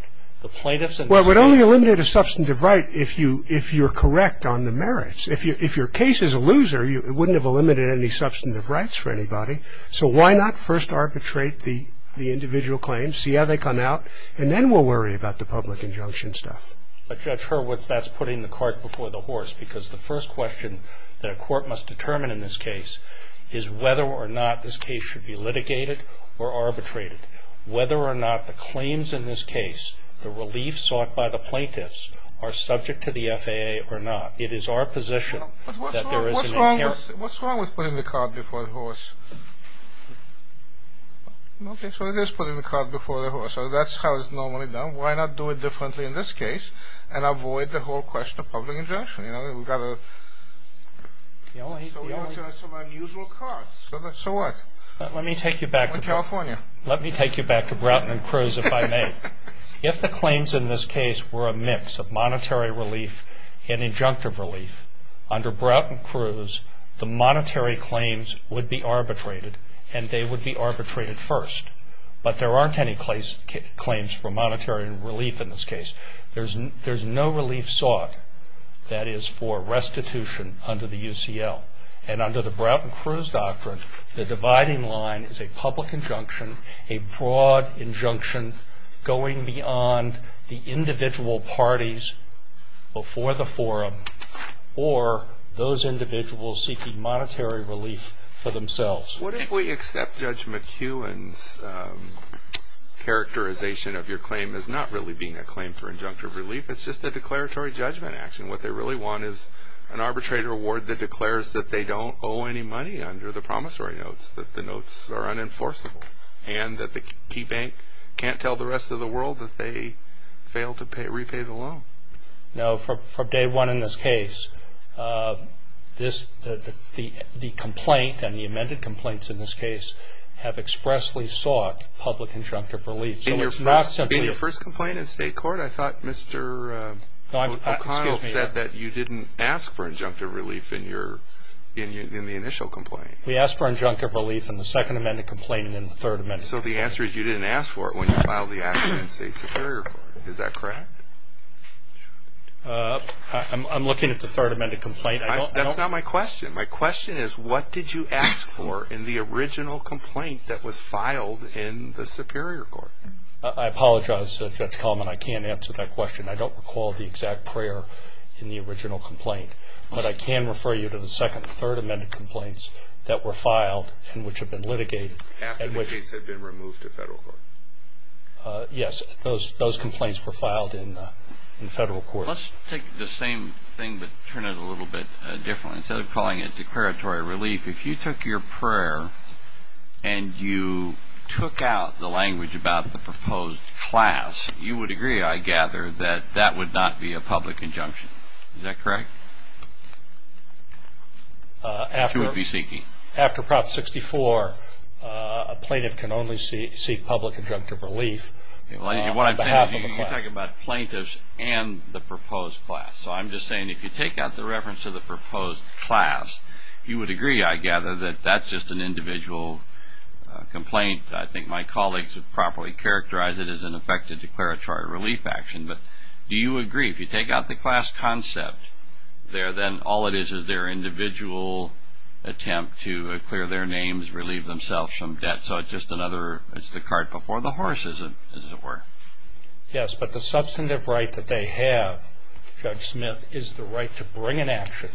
Well, it would only eliminate a substantive right if you're correct on the merits. If your case is a loser, it wouldn't have eliminated any substantive rights for anybody. So why not first arbitrate the individual claims, see how they come out, and then we'll worry about the public injunction stuff. But, Judge Hurwitz, that's putting the cart before the horse, because the first question that a court must determine in this case is whether or not this case should be litigated or arbitrated, whether or not the claims in this case, the relief sought by the plaintiffs, are subject to the FAA or not. It is our position that there is an inherent... But what's wrong with putting the cart before the horse? Okay, so it is putting the cart before the horse. So that's how it's normally done. Why not do it differently in this case and avoid the whole question of public injunction? You know, we've got a... The only... So we have some unusual carts. So what? Let me take you back to... Let me take you back to Broughton and Cruz, if I may. If the claims in this case were a mix of monetary relief and injunctive relief, under Broughton and Cruz, the monetary claims would be arbitrated, and they would be arbitrated first. But there aren't any claims for monetary relief in this case. There's no relief sought that is for restitution under the UCL. And under the Broughton and Cruz doctrine, the dividing line is a public injunction, a broad injunction going beyond the individual parties before the forum or those individuals seeking monetary relief for themselves. What if we accept Judge McEwen's characterization of your claim as not really being a claim for injunctive relief? It's just a declaratory judgment action. What they really want is an arbitrator award that declares that they don't owe any money under the promissory notes, that the notes are unenforceable, and that the key bank can't tell the rest of the world that they failed to repay the loan. No, from day one in this case, the complaint and the amended complaints in this case have expressly sought public injunctive relief. In your first complaint in state court, I thought Mr. O'Connell said that you didn't ask for injunctive relief in the initial complaint. We asked for injunctive relief in the second amended complaint and in the third amended complaint. So the answer is you didn't ask for it when you filed the action in state superior court. Is that correct? I'm looking at the third amended complaint. That's not my question. My question is what did you ask for in the original complaint that was filed in the superior court? I apologize, Judge Coleman. I can't answer that question. I don't recall the exact prayer in the original complaint, but I can refer you to the second and third amended complaints that were filed and which have been litigated. After the case had been removed to federal court. Yes, those complaints were filed in federal court. Let's take the same thing but turn it a little bit differently. Instead of calling it declaratory relief, if you took your prayer and you took out the language about the proposed class, you would agree, I gather, that that would not be a public injunction. Is that correct? After Prop 64, a plaintiff can only seek public injunctive relief on behalf of the class. You're talking about plaintiffs and the proposed class. So I'm just saying if you take out the reference to the proposed class, you would agree, I gather, that that's just an individual complaint. I think my colleagues would properly characterize it as an effective declaratory relief action. But do you agree if you take out the class concept, then all it is is their individual attempt to clear their names, relieve themselves from debt. It's the cart before the horse, as it were. Yes, but the substantive right that they have, Judge Smith, is the right to bring an action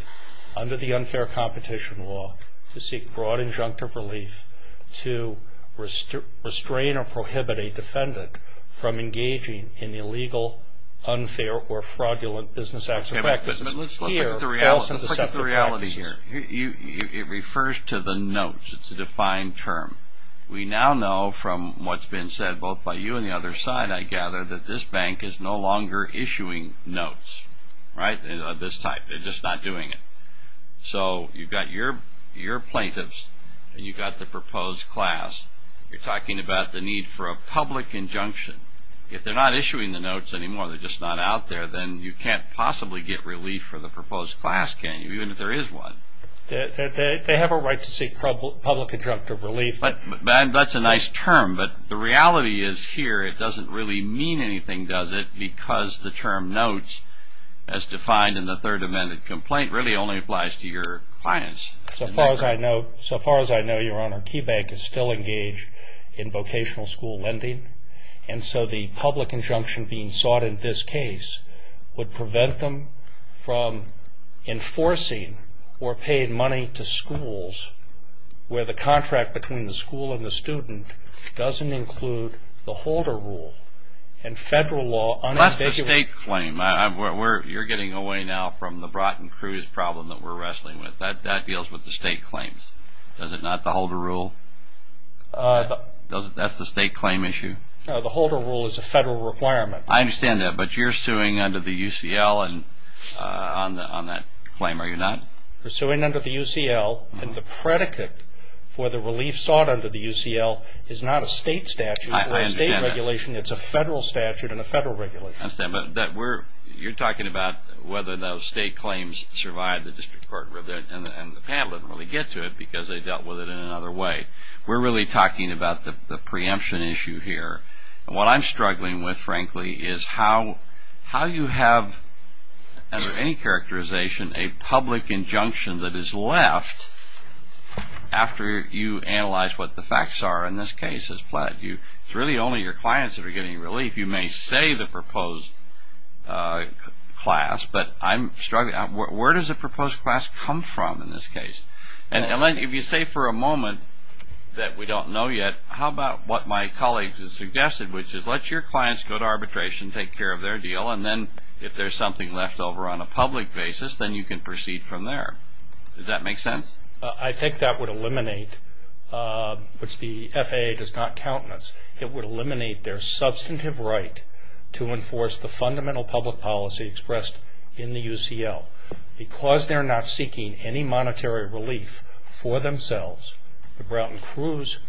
under the unfair competition law to seek broad injunctive relief to restrain or prohibit a defendant from engaging in illegal, unfair, or fraudulent business acts or practices. Let's look at the reality here. It refers to the notes. It's a defined term. We now know from what's been said both by you and the other side, I gather, that this bank is no longer issuing notes of this type. They're just not doing it. So you've got your plaintiffs and you've got the proposed class. You're talking about the need for a public injunction. If they're not issuing the notes anymore, they're just not out there, then you can't possibly get relief for the proposed class, can you, even if there is one. They have a right to seek public injunctive relief. That's a nice term, but the reality is here it doesn't really mean anything, does it, because the term notes, as defined in the third amendment complaint, really only applies to your clients. So far as I know, Your Honor, KeyBank is still engaged in vocational school lending, and so the public injunction being sought in this case would prevent them from enforcing or paying money to schools where the contract between the school and the student doesn't include the Holder Rule and federal law unambiguously. That's the state claim. You're getting away now from the Broughton-Cruz problem that we're wrestling with. That deals with the state claims. Is it not the Holder Rule? That's the state claim issue. No, the Holder Rule is a federal requirement. I understand that, but you're suing under the UCL on that claim, are you not? We're suing under the UCL, and the predicate for the relief sought under the UCL is not a state statute or a state regulation. I understand that. It's a federal statute and a federal regulation. I understand, but you're talking about whether those state claims survive the district court, and the panel didn't really get to it because they dealt with it in another way. We're really talking about the preemption issue here. What I'm struggling with, frankly, is how you have under any characterization a public injunction that is left after you analyze what the facts are in this case. It's really only your clients that are getting relief. You may say the proposed class, but I'm struggling. Where does a proposed class come from in this case? If you say for a moment that we don't know yet, how about what my colleague has suggested, which is let your clients go to arbitration, take care of their deal, and then if there's something left over on a public basis, then you can proceed from there. Does that make sense? I think that would eliminate, which the FAA does not countenance, it would eliminate their substantive right to enforce the fundamental public policy expressed in the UCL. Because they're not seeking any monetary relief for themselves, the Broughton-Crews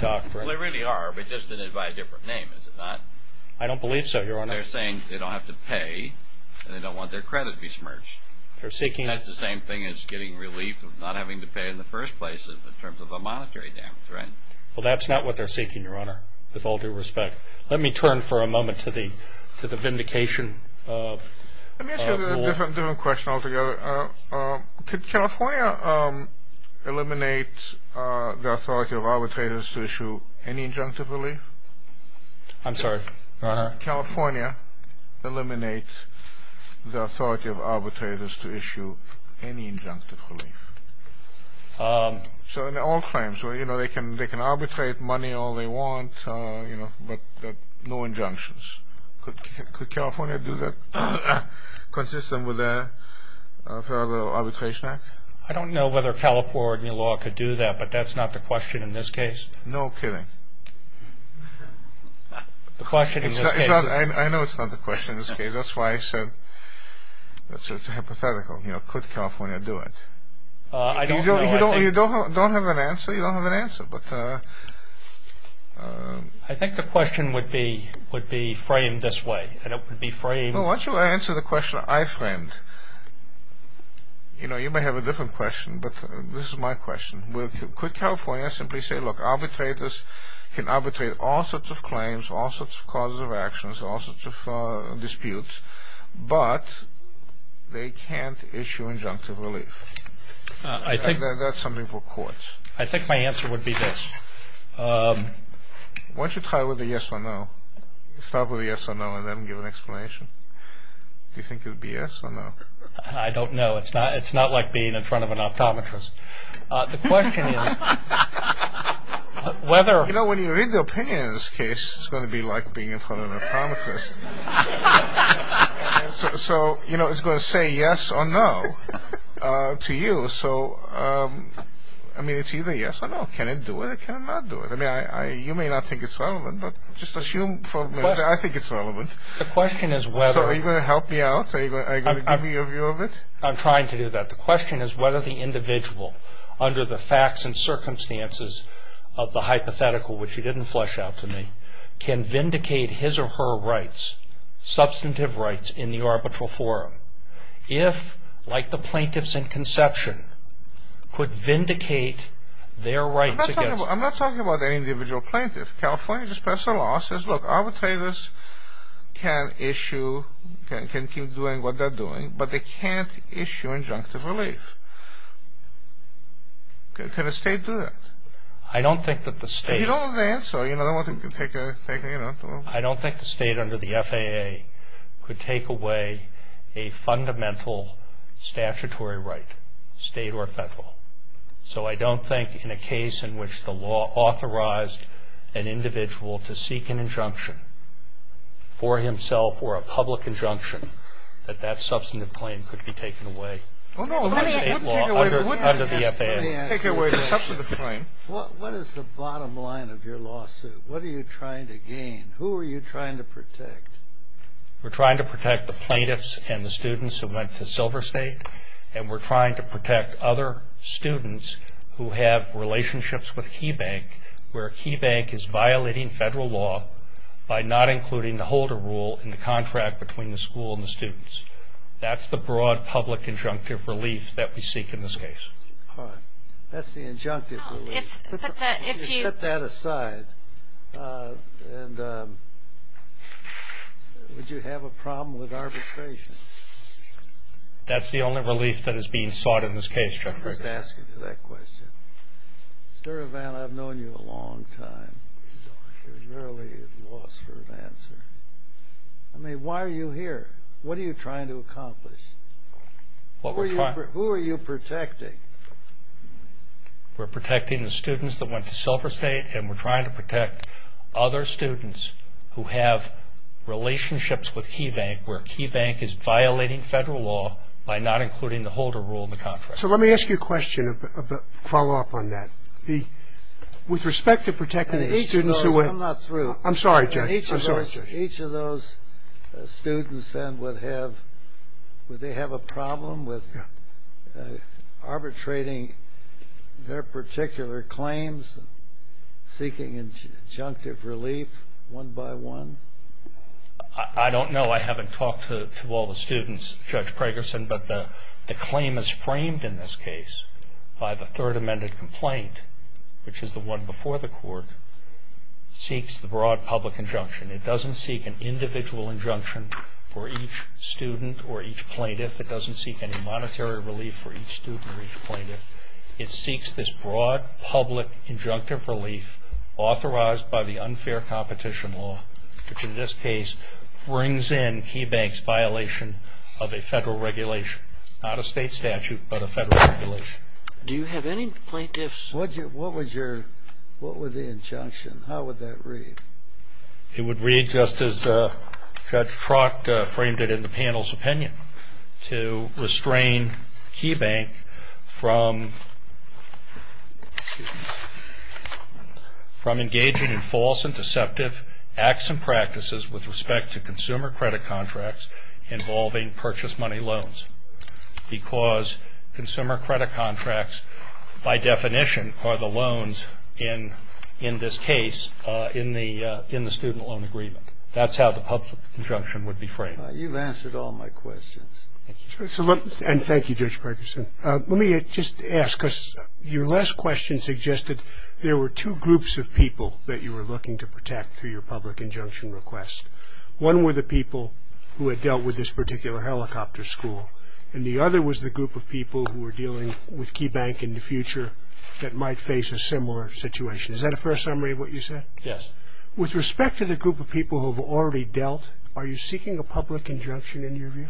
doctrine... Well, they really are, but just in it by a different name, is it not? I don't believe so, Your Honor. They're saying they don't have to pay, and they don't want their credit to be smudged. They're seeking... That's the same thing as getting relief of not having to pay in the first place in terms of a monetary damage, right? Well, that's not what they're seeking, Your Honor, with all due respect. Let me turn for a moment to the vindication rule. Let me ask you a different question altogether. Could California eliminate the authority of arbitrators to issue any injunctive relief? I'm sorry, Your Honor? Could California eliminate the authority of arbitrators to issue any injunctive relief? So in all claims, they can arbitrate money all they want, but no injunctions. Could California do that? Consistent with the arbitration act? I don't know whether California law could do that, but that's not the question in this case. No kidding? The question in this case... I know it's not the question in this case. That's why I said it's hypothetical. Could California do it? I don't know. If you don't have an answer, you don't have an answer. I think the question would be framed this way, and it would be framed... Why don't you answer the question I framed? You may have a different question, but this is my question. Could California simply say, look, arbitrators can arbitrate all sorts of claims, all sorts of causes of actions, all sorts of disputes, but they can't issue injunctive relief? That's something for courts. I think my answer would be this. Why don't you try with a yes or no? Start with a yes or no and then give an explanation. Do you think it would be yes or no? I don't know. It's not like being in front of an optometrist. The question is whether... You know, when you read the opinion in this case, it's going to be like being in front of an optometrist. So, you know, it's going to say yes or no to you. So, I mean, it's either yes or no. Can it do it? Can it not do it? I mean, you may not think it's relevant, but just assume for a minute that I think it's relevant. The question is whether... So are you going to help me out? Are you going to give me a view of it? I'm trying to do that. The question is whether the individual, under the facts and circumstances of the hypothetical, which you didn't flesh out to me, can vindicate his or her rights, substantive rights, in the arbitral forum. If, like the plaintiffs in conception, could vindicate their rights against... I'm not talking about any individual plaintiff. California just passed a law that says, look, arbitrators can issue... can keep doing what they're doing, but they can't issue injunctive relief. Can a state do that? I don't think that the state... You don't have the answer. You don't want to take a... I don't think the state under the FAA could take away a fundamental statutory right, state or federal. So I don't think in a case in which the law authorized an individual to seek an injunction for himself or a public injunction, that that substantive claim could be taken away. Oh, no. Maybe it would take away... Under the FAA. It would take away the substantive claim. What is the bottom line of your lawsuit? What are you trying to gain? Who are you trying to protect? We're trying to protect the plaintiffs and the students who went to Silver State, and we're trying to protect other students who have relationships with KeyBank, where KeyBank is violating federal law by not including the holder rule in the contract between the school and the students. That's the broad public injunctive relief that we seek in this case. All right. That's the injunctive relief. If you set that aside, would you have a problem with arbitration? That's the only relief that is being sought in this case, Judge. I'm just asking you that question. Mr. Ravan, I've known you a long time. You're really at a loss for an answer. I mean, why are you here? What are you trying to accomplish? Who are you protecting? We're protecting the students that went to Silver State, and we're trying to protect other students who have relationships with KeyBank, where KeyBank is violating federal law by not including the holder rule in the contract. So let me ask you a question, a follow-up on that. With respect to protecting the students who went – I'm not through. I'm sorry, Judge. Each of those students then would have – would they have a problem with arbitrating their particular claims, seeking injunctive relief one by one? I don't know. I haven't talked to all the students, Judge Pragerson, but the claim is framed in this case by the Third Amendment complaint, which is the one before the court, seeks the broad public injunction. It doesn't seek an individual injunction for each student or each plaintiff. It doesn't seek any monetary relief for each student or each plaintiff. It seeks this broad public injunctive relief authorized by the unfair competition law, which in this case brings in KeyBank's violation of a federal regulation. Not a state statute, but a federal regulation. Do you have any plaintiffs? What was your – what was the injunction? How would that read? It would read just as Judge Trock framed it in the panel's opinion, to restrain KeyBank from engaging in false and deceptive acts and practices with respect to consumer credit contracts involving purchase money loans because consumer credit contracts, by definition, are the loans in this case in the student loan agreement. That's how the public injunction would be framed. You've answered all my questions. Thank you. And thank you, Judge Pragerson. Let me just ask, because your last question suggested there were two groups of people that you were looking to protect through your public injunction request. One were the people who had dealt with this particular helicopter school, and the other was the group of people who were dealing with KeyBank in the future that might face a similar situation. Is that a fair summary of what you said? Yes. With respect to the group of people who have already dealt, are you seeking a public injunction in your view?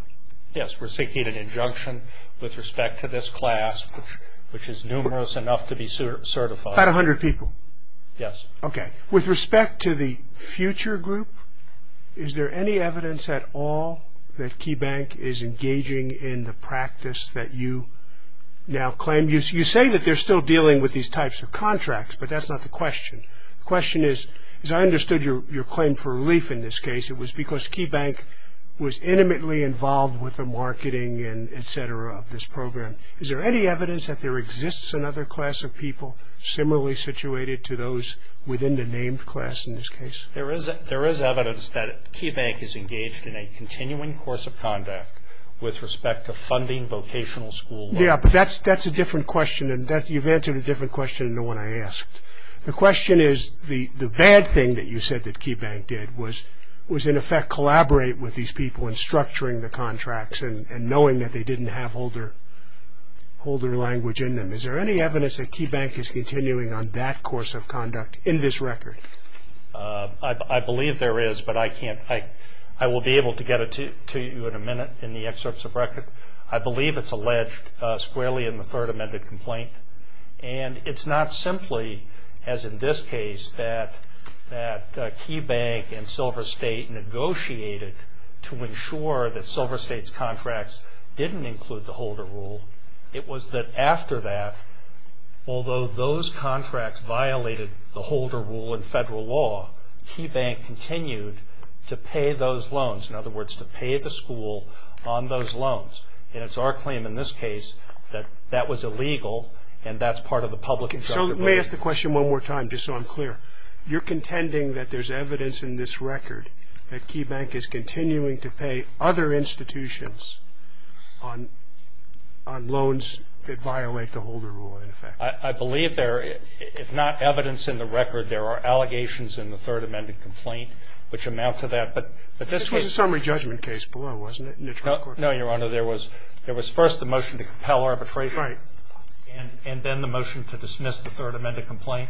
Yes, we're seeking an injunction with respect to this class, which is numerous enough to be certified. About 100 people? Yes. Okay. With respect to the future group, is there any evidence at all that KeyBank is engaging in the practice that you now claim? You say that they're still dealing with these types of contracts, but that's not the question. The question is, as I understood your claim for relief in this case, it was because KeyBank was intimately involved with the marketing and et cetera of this program. Is there any evidence that there exists another class of people similarly situated to those within the named class in this case? There is evidence that KeyBank is engaged in a continuing course of conduct with respect to funding vocational school. Yes, but that's a different question, and you've answered a different question than the one I asked. The question is, the bad thing that you said that KeyBank did was in effect collaborate with these people in structuring the contracts and knowing that they didn't have holder language in them. Is there any evidence that KeyBank is continuing on that course of conduct in this record? I believe there is, but I can't. I will be able to get it to you in a minute in the excerpts of record. I believe it's alleged squarely in the third amended complaint, and it's not simply as in this case that KeyBank and Silver State negotiated to ensure that Silver State's contracts didn't include the holder rule. It was that after that, although those contracts violated the holder rule in federal law, KeyBank continued to pay those loans. In other words, to pay the school on those loans. And it's our claim in this case that that was illegal, and that's part of the public... Okay, so let me ask the question one more time, just so I'm clear. You're contending that there's evidence in this record that KeyBank is continuing to pay other institutions on loans that violate the holder rule, in effect? I believe there is. If not evidence in the record, there are allegations in the third amended complaint which amount to that. But this case... This was a summary judgment case below, wasn't it? No, Your Honor. There was first the motion to compel arbitration. Right. And then the motion to dismiss the third amended complaint.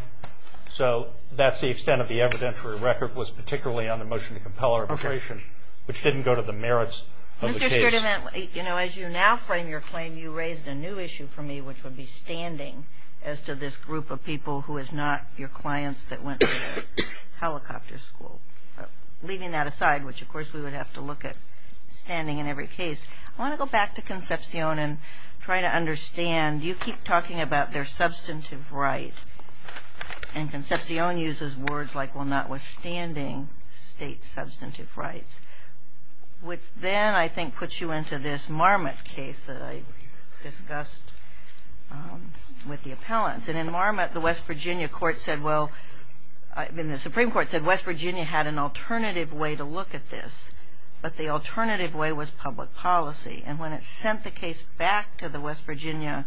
So that's the extent of the evidentiary record, was particularly on the motion to compel arbitration, which didn't go to the merits of the case. Mr. Sturtevant, as you now frame your claim, you raised a new issue for me, which would be standing as to this group of people who is not your clients that went to helicopter school. Leaving that aside, which of course we would have to look at standing in every case, I want to go back to Concepcion and try to understand. You keep talking about their substantive right, and Concepcion uses words like, well, notwithstanding state substantive rights, which then I think puts you into this Marmot case that I discussed with the appellants. And in Marmot, the West Virginia court said, well, the Supreme Court said West Virginia had an alternative way to look at this, but the alternative way was public policy. And when it sent the case back to the West Virginia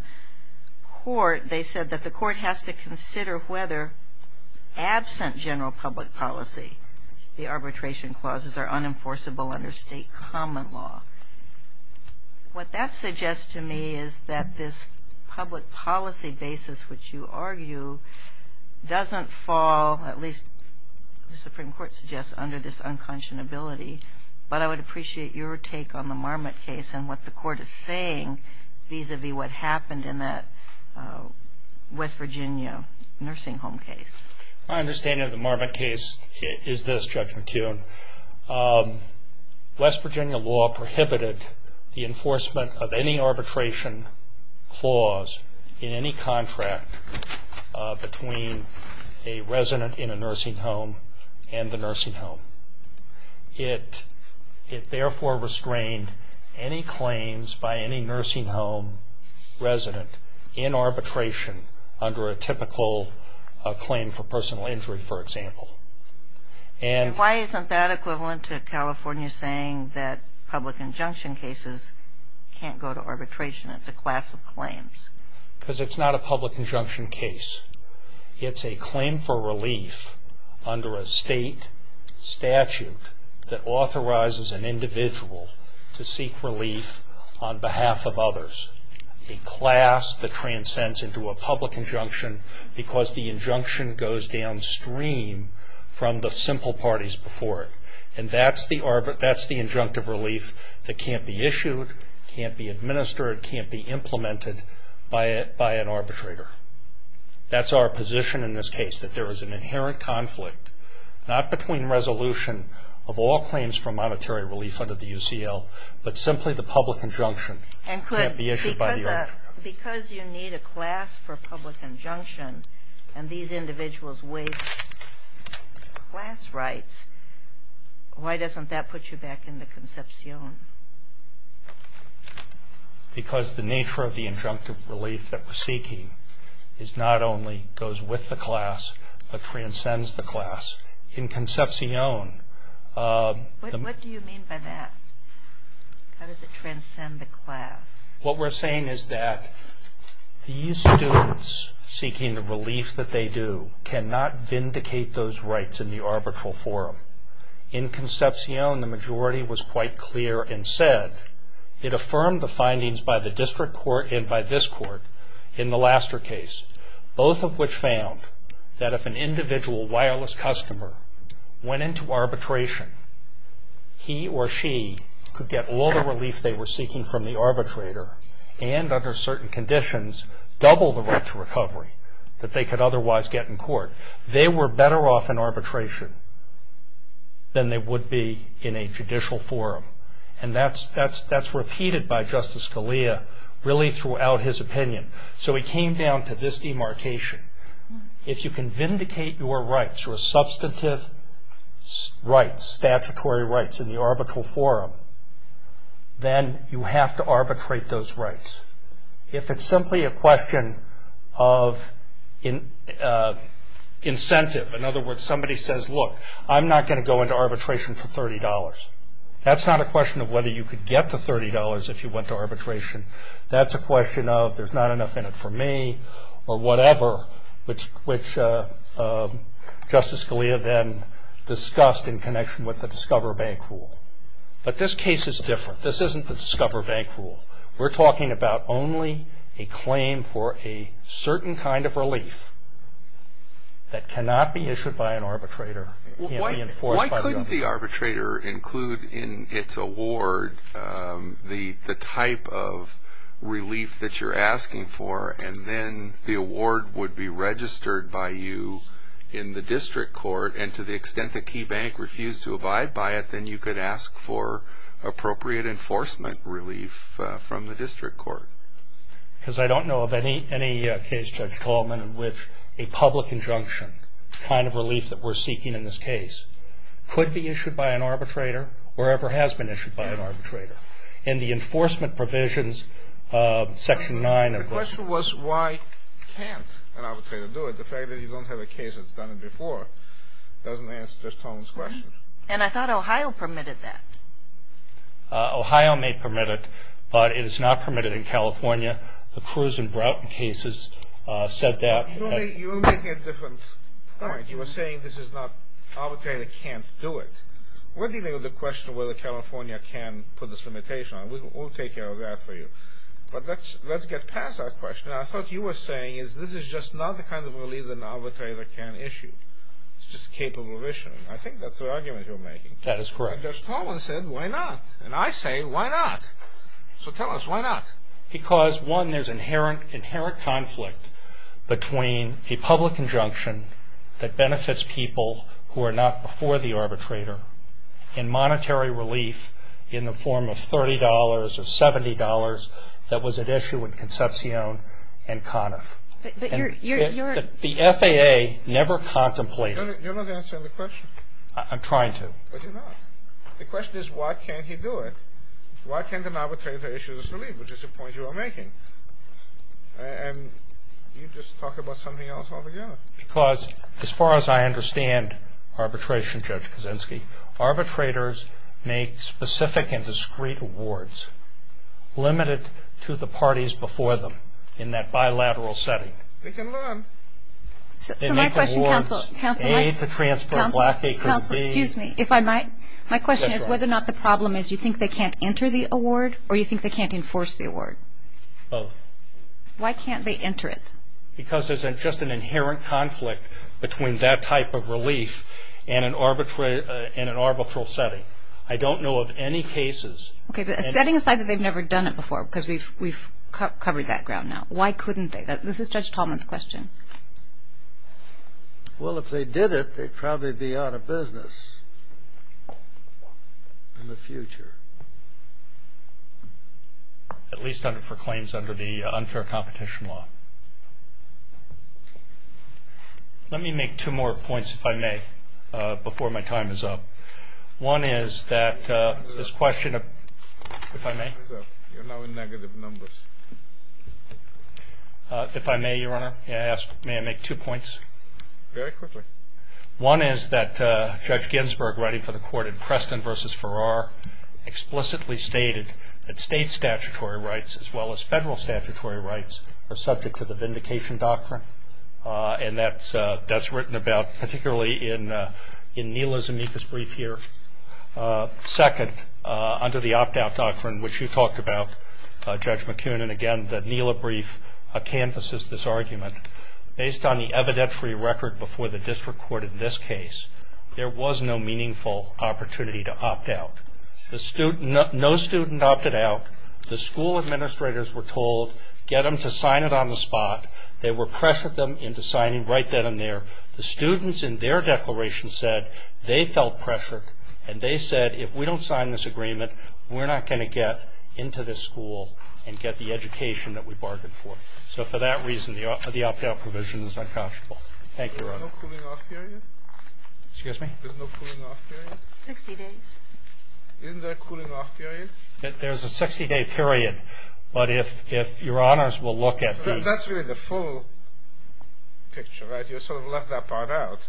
court, they said that the court has to consider whether absent general public policy, the arbitration clauses are unenforceable under state common law. What that suggests to me is that this public policy basis which you argue doesn't fall, at least the Supreme Court suggests, under this unconscionability. But I would appreciate your take on the Marmot case and what the court is saying vis-a-vis what happened in that West Virginia nursing home case. My understanding of the Marmot case is this, Judge McKeown. West Virginia law prohibited the enforcement of any arbitration clause in any contract between a resident in a nursing home and the nursing home. It therefore restrained any claims by any nursing home resident in arbitration under a typical claim for personal injury, for example. And why isn't that equivalent to California saying that public injunction cases can't go to arbitration? It's a class of claims. Because it's not a public injunction case. It's a claim for relief under a state statute that authorizes an individual to seek relief on behalf of others. A class that transcends into a public injunction because the injunction goes downstream from the simple parties before it. And that's the injunctive relief that can't be issued, can't be administered, can't be implemented by an arbitrator. That's our position in this case, that there is an inherent conflict, not between resolution of all claims for monetary relief under the UCL, but simply the public injunction can't be issued by the arbitrator. And because you need a class for public injunction and these individuals waive class rights, why doesn't that put you back into Concepcion? Because the nature of the injunctive relief that we're seeking is not only goes with the class, but transcends the class. In Concepcion... What do you mean by that? How does it transcend the class? What we're saying is that these students seeking the relief that they do cannot vindicate those rights in the arbitral forum. In Concepcion, the majority was quite clear and said it affirmed the findings by the district court and by this court in the Laster case, both of which found that if an individual wireless customer went into arbitration, he or she could get all the relief they were seeking from the arbitrator and under certain conditions, double the right to recovery that they could otherwise get in court. They were better off in arbitration than they would be in a judicial forum. And that's repeated by Justice Scalia really throughout his opinion. So he came down to this demarcation. If you can vindicate your rights, your substantive rights, statutory rights in the arbitral forum, then you have to arbitrate those rights. If it's simply a question of incentive, in other words, somebody says, look, I'm not going to go into arbitration for $30. That's not a question of whether you could get the $30 if you went to arbitration. That's a question of there's not enough in it for me or whatever, which Justice Scalia then discussed in connection with the Discover Bank rule. But this case is different. This isn't the Discover Bank rule. We're talking about only a claim for a certain kind of relief that cannot be issued by an arbitrator, can't be enforced by the arbitrator. in its award the type of relief that you're asking for, and then the award would be registered by you in the district court. And to the extent that KeyBank refused to abide by it, then you could ask for appropriate enforcement relief from the district court. Because I don't know of any case, Judge Tallman, in which a public injunction kind of relief that we're seeking in this case could be issued by an arbitrator or ever has been issued by an arbitrator. In the enforcement provisions, Section 9 of the The question was why can't an arbitrator do it? The fact that you don't have a case that's done it before doesn't answer Judge Tallman's question. And I thought Ohio permitted that. Ohio may permit it, but it is not permitted in California. The Cruz and Broughton cases said that. You're making a different point. You were saying this is not, arbitrator can't do it. What do you think of the question whether California can put this limitation on it? We'll take care of that for you. But let's get past that question. I thought you were saying this is just not the kind of relief that an arbitrator can issue. It's just capable of issuing. I think that's the argument you're making. That is correct. And Judge Tallman said, why not? And I say, why not? So tell us, why not? Because, one, there's inherent conflict between a public injunction that benefits people who are not before the arbitrator and monetary relief in the form of $30 or $70 that was at issue in Concepcion and Conniff. But you're The FAA never contemplated You're not answering the question. I'm trying to. But you're not. The question is why can't he do it? Why can't an arbitrator issue this relief, which is the point you are making? And you just talk about something else all together. Because, as far as I understand arbitration, Judge Kaczynski, arbitrators make specific and discreet awards limited to the parties before them in that bilateral setting. They can learn. So my question, Counsel, Counsel, A to transfer black aid could be Counsel, excuse me, if I might, My question is whether or not the problem is you think they can't enter the award or you think they can't enforce the award? Both. Why can't they enter it? Because there's just an inherent conflict between that type of relief and an arbitral setting. I don't know of any cases Okay, but setting aside that they've never done it before because we've covered that ground now, why couldn't they? This is Judge Tallman's question. Well, if they did it, they'd probably be out of business in the future. At least for claims under the unfair competition law. Let me make two more points, if I may, before my time is up. One is that this question of If I may? You're now in negative numbers. If I may, Your Honor, may I make two points? Very quickly. One is that Judge Ginsburg, writing for the court in Preston v. Farrar, explicitly stated that state statutory rights as well as federal statutory rights are subject to the vindication doctrine. And that's written about particularly in Neila's amicus brief here. Second, under the opt-out doctrine, which you talked about, Judge McCune, and again, the Neila brief canvasses this argument. Based on the evidentiary record before the district court in this case, there was no meaningful opportunity to opt out. No student opted out. The school administrators were told, get them to sign it on the spot. They were pressured them into signing right then and there. The students in their declaration said they felt pressured and they said, if we don't sign this agreement, we're not going to get into this school and get the education that we bargained for. So for that reason, the opt-out provision is unconscionable. Thank you, Your Honor. There's no cooling-off period? Excuse me? There's no cooling-off period? 60 days. Isn't there a cooling-off period? There's a 60-day period. But if Your Honors will look at the... But that's really the full picture, right? You sort of left that part out.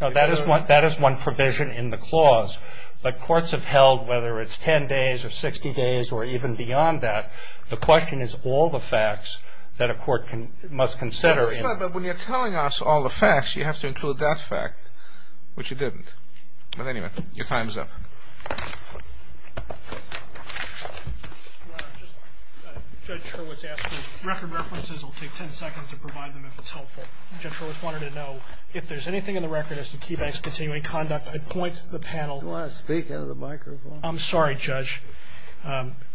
No, that is one provision in the clause. But courts have held, whether it's 10 days or 60 days or even beyond that, the question is all the facts that a court must consider. But when you're telling us all the facts, you have to include that fact, which you didn't. But anyway, your time is up. Your Honor, Judge Hurwitz asked if record references will take 10 seconds to provide them if it's helpful. Judge Hurwitz wanted to know if there's anything in the record as to KeyBank's continuing conduct. I'd point the panel... Do you want to speak into the microphone? I'm sorry, Judge.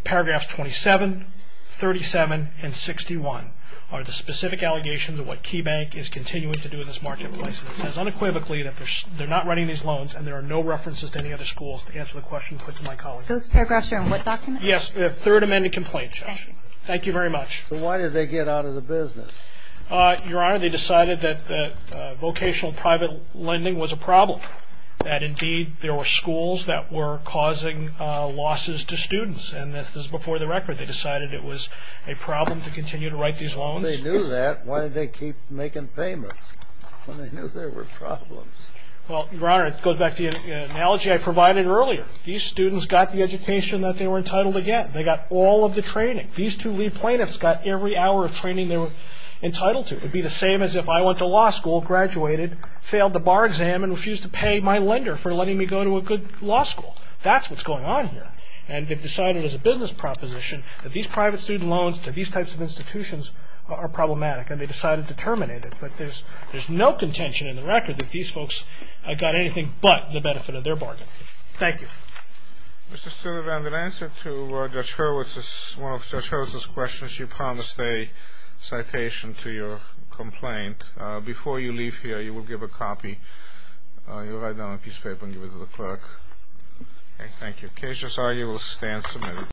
Paragraphs 27, 37, and 61 are the specific allegations of what KeyBank is continuing to do in this marketplace. It says unequivocally that they're not running these loans and there are no references to any other schools to answer the question put to my colleague. Those paragraphs are in what document? Yes, the Third Amendment Complaint, Judge. Thank you very much. So why did they get out of the business? Your Honor, they decided that vocational private lending was a problem. That indeed, there were schools that were causing losses to students. And this is before the record. They decided it was a problem to continue to write these loans. Well, they knew that. Why did they keep making payments when they knew there were problems? Well, Your Honor, it goes back to the analogy I provided earlier. These students got the education that they were entitled to get. They got all of the training. These two lead plaintiffs got every hour of training they were entitled to. It would be the same as if I went to law school, graduated, failed the bar exam and refused to pay my lender for letting me go to a good law school. That's what's going on here. And they've decided as a business proposition that these private student loans to these types of institutions are problematic. And they decided to terminate it. But there's no contention in the record that these folks got anything but the benefit of their bargain. Thank you. Mr. Sullivan, in answer to Judge Hurwitz, one of Judge Hurwitz's questions, you promised a citation to your complaint. Before you leave here, you will give a copy. You'll write it down on a piece of paper and give it to the clerk. Thank you. In case you're sorry, you will stand submitted.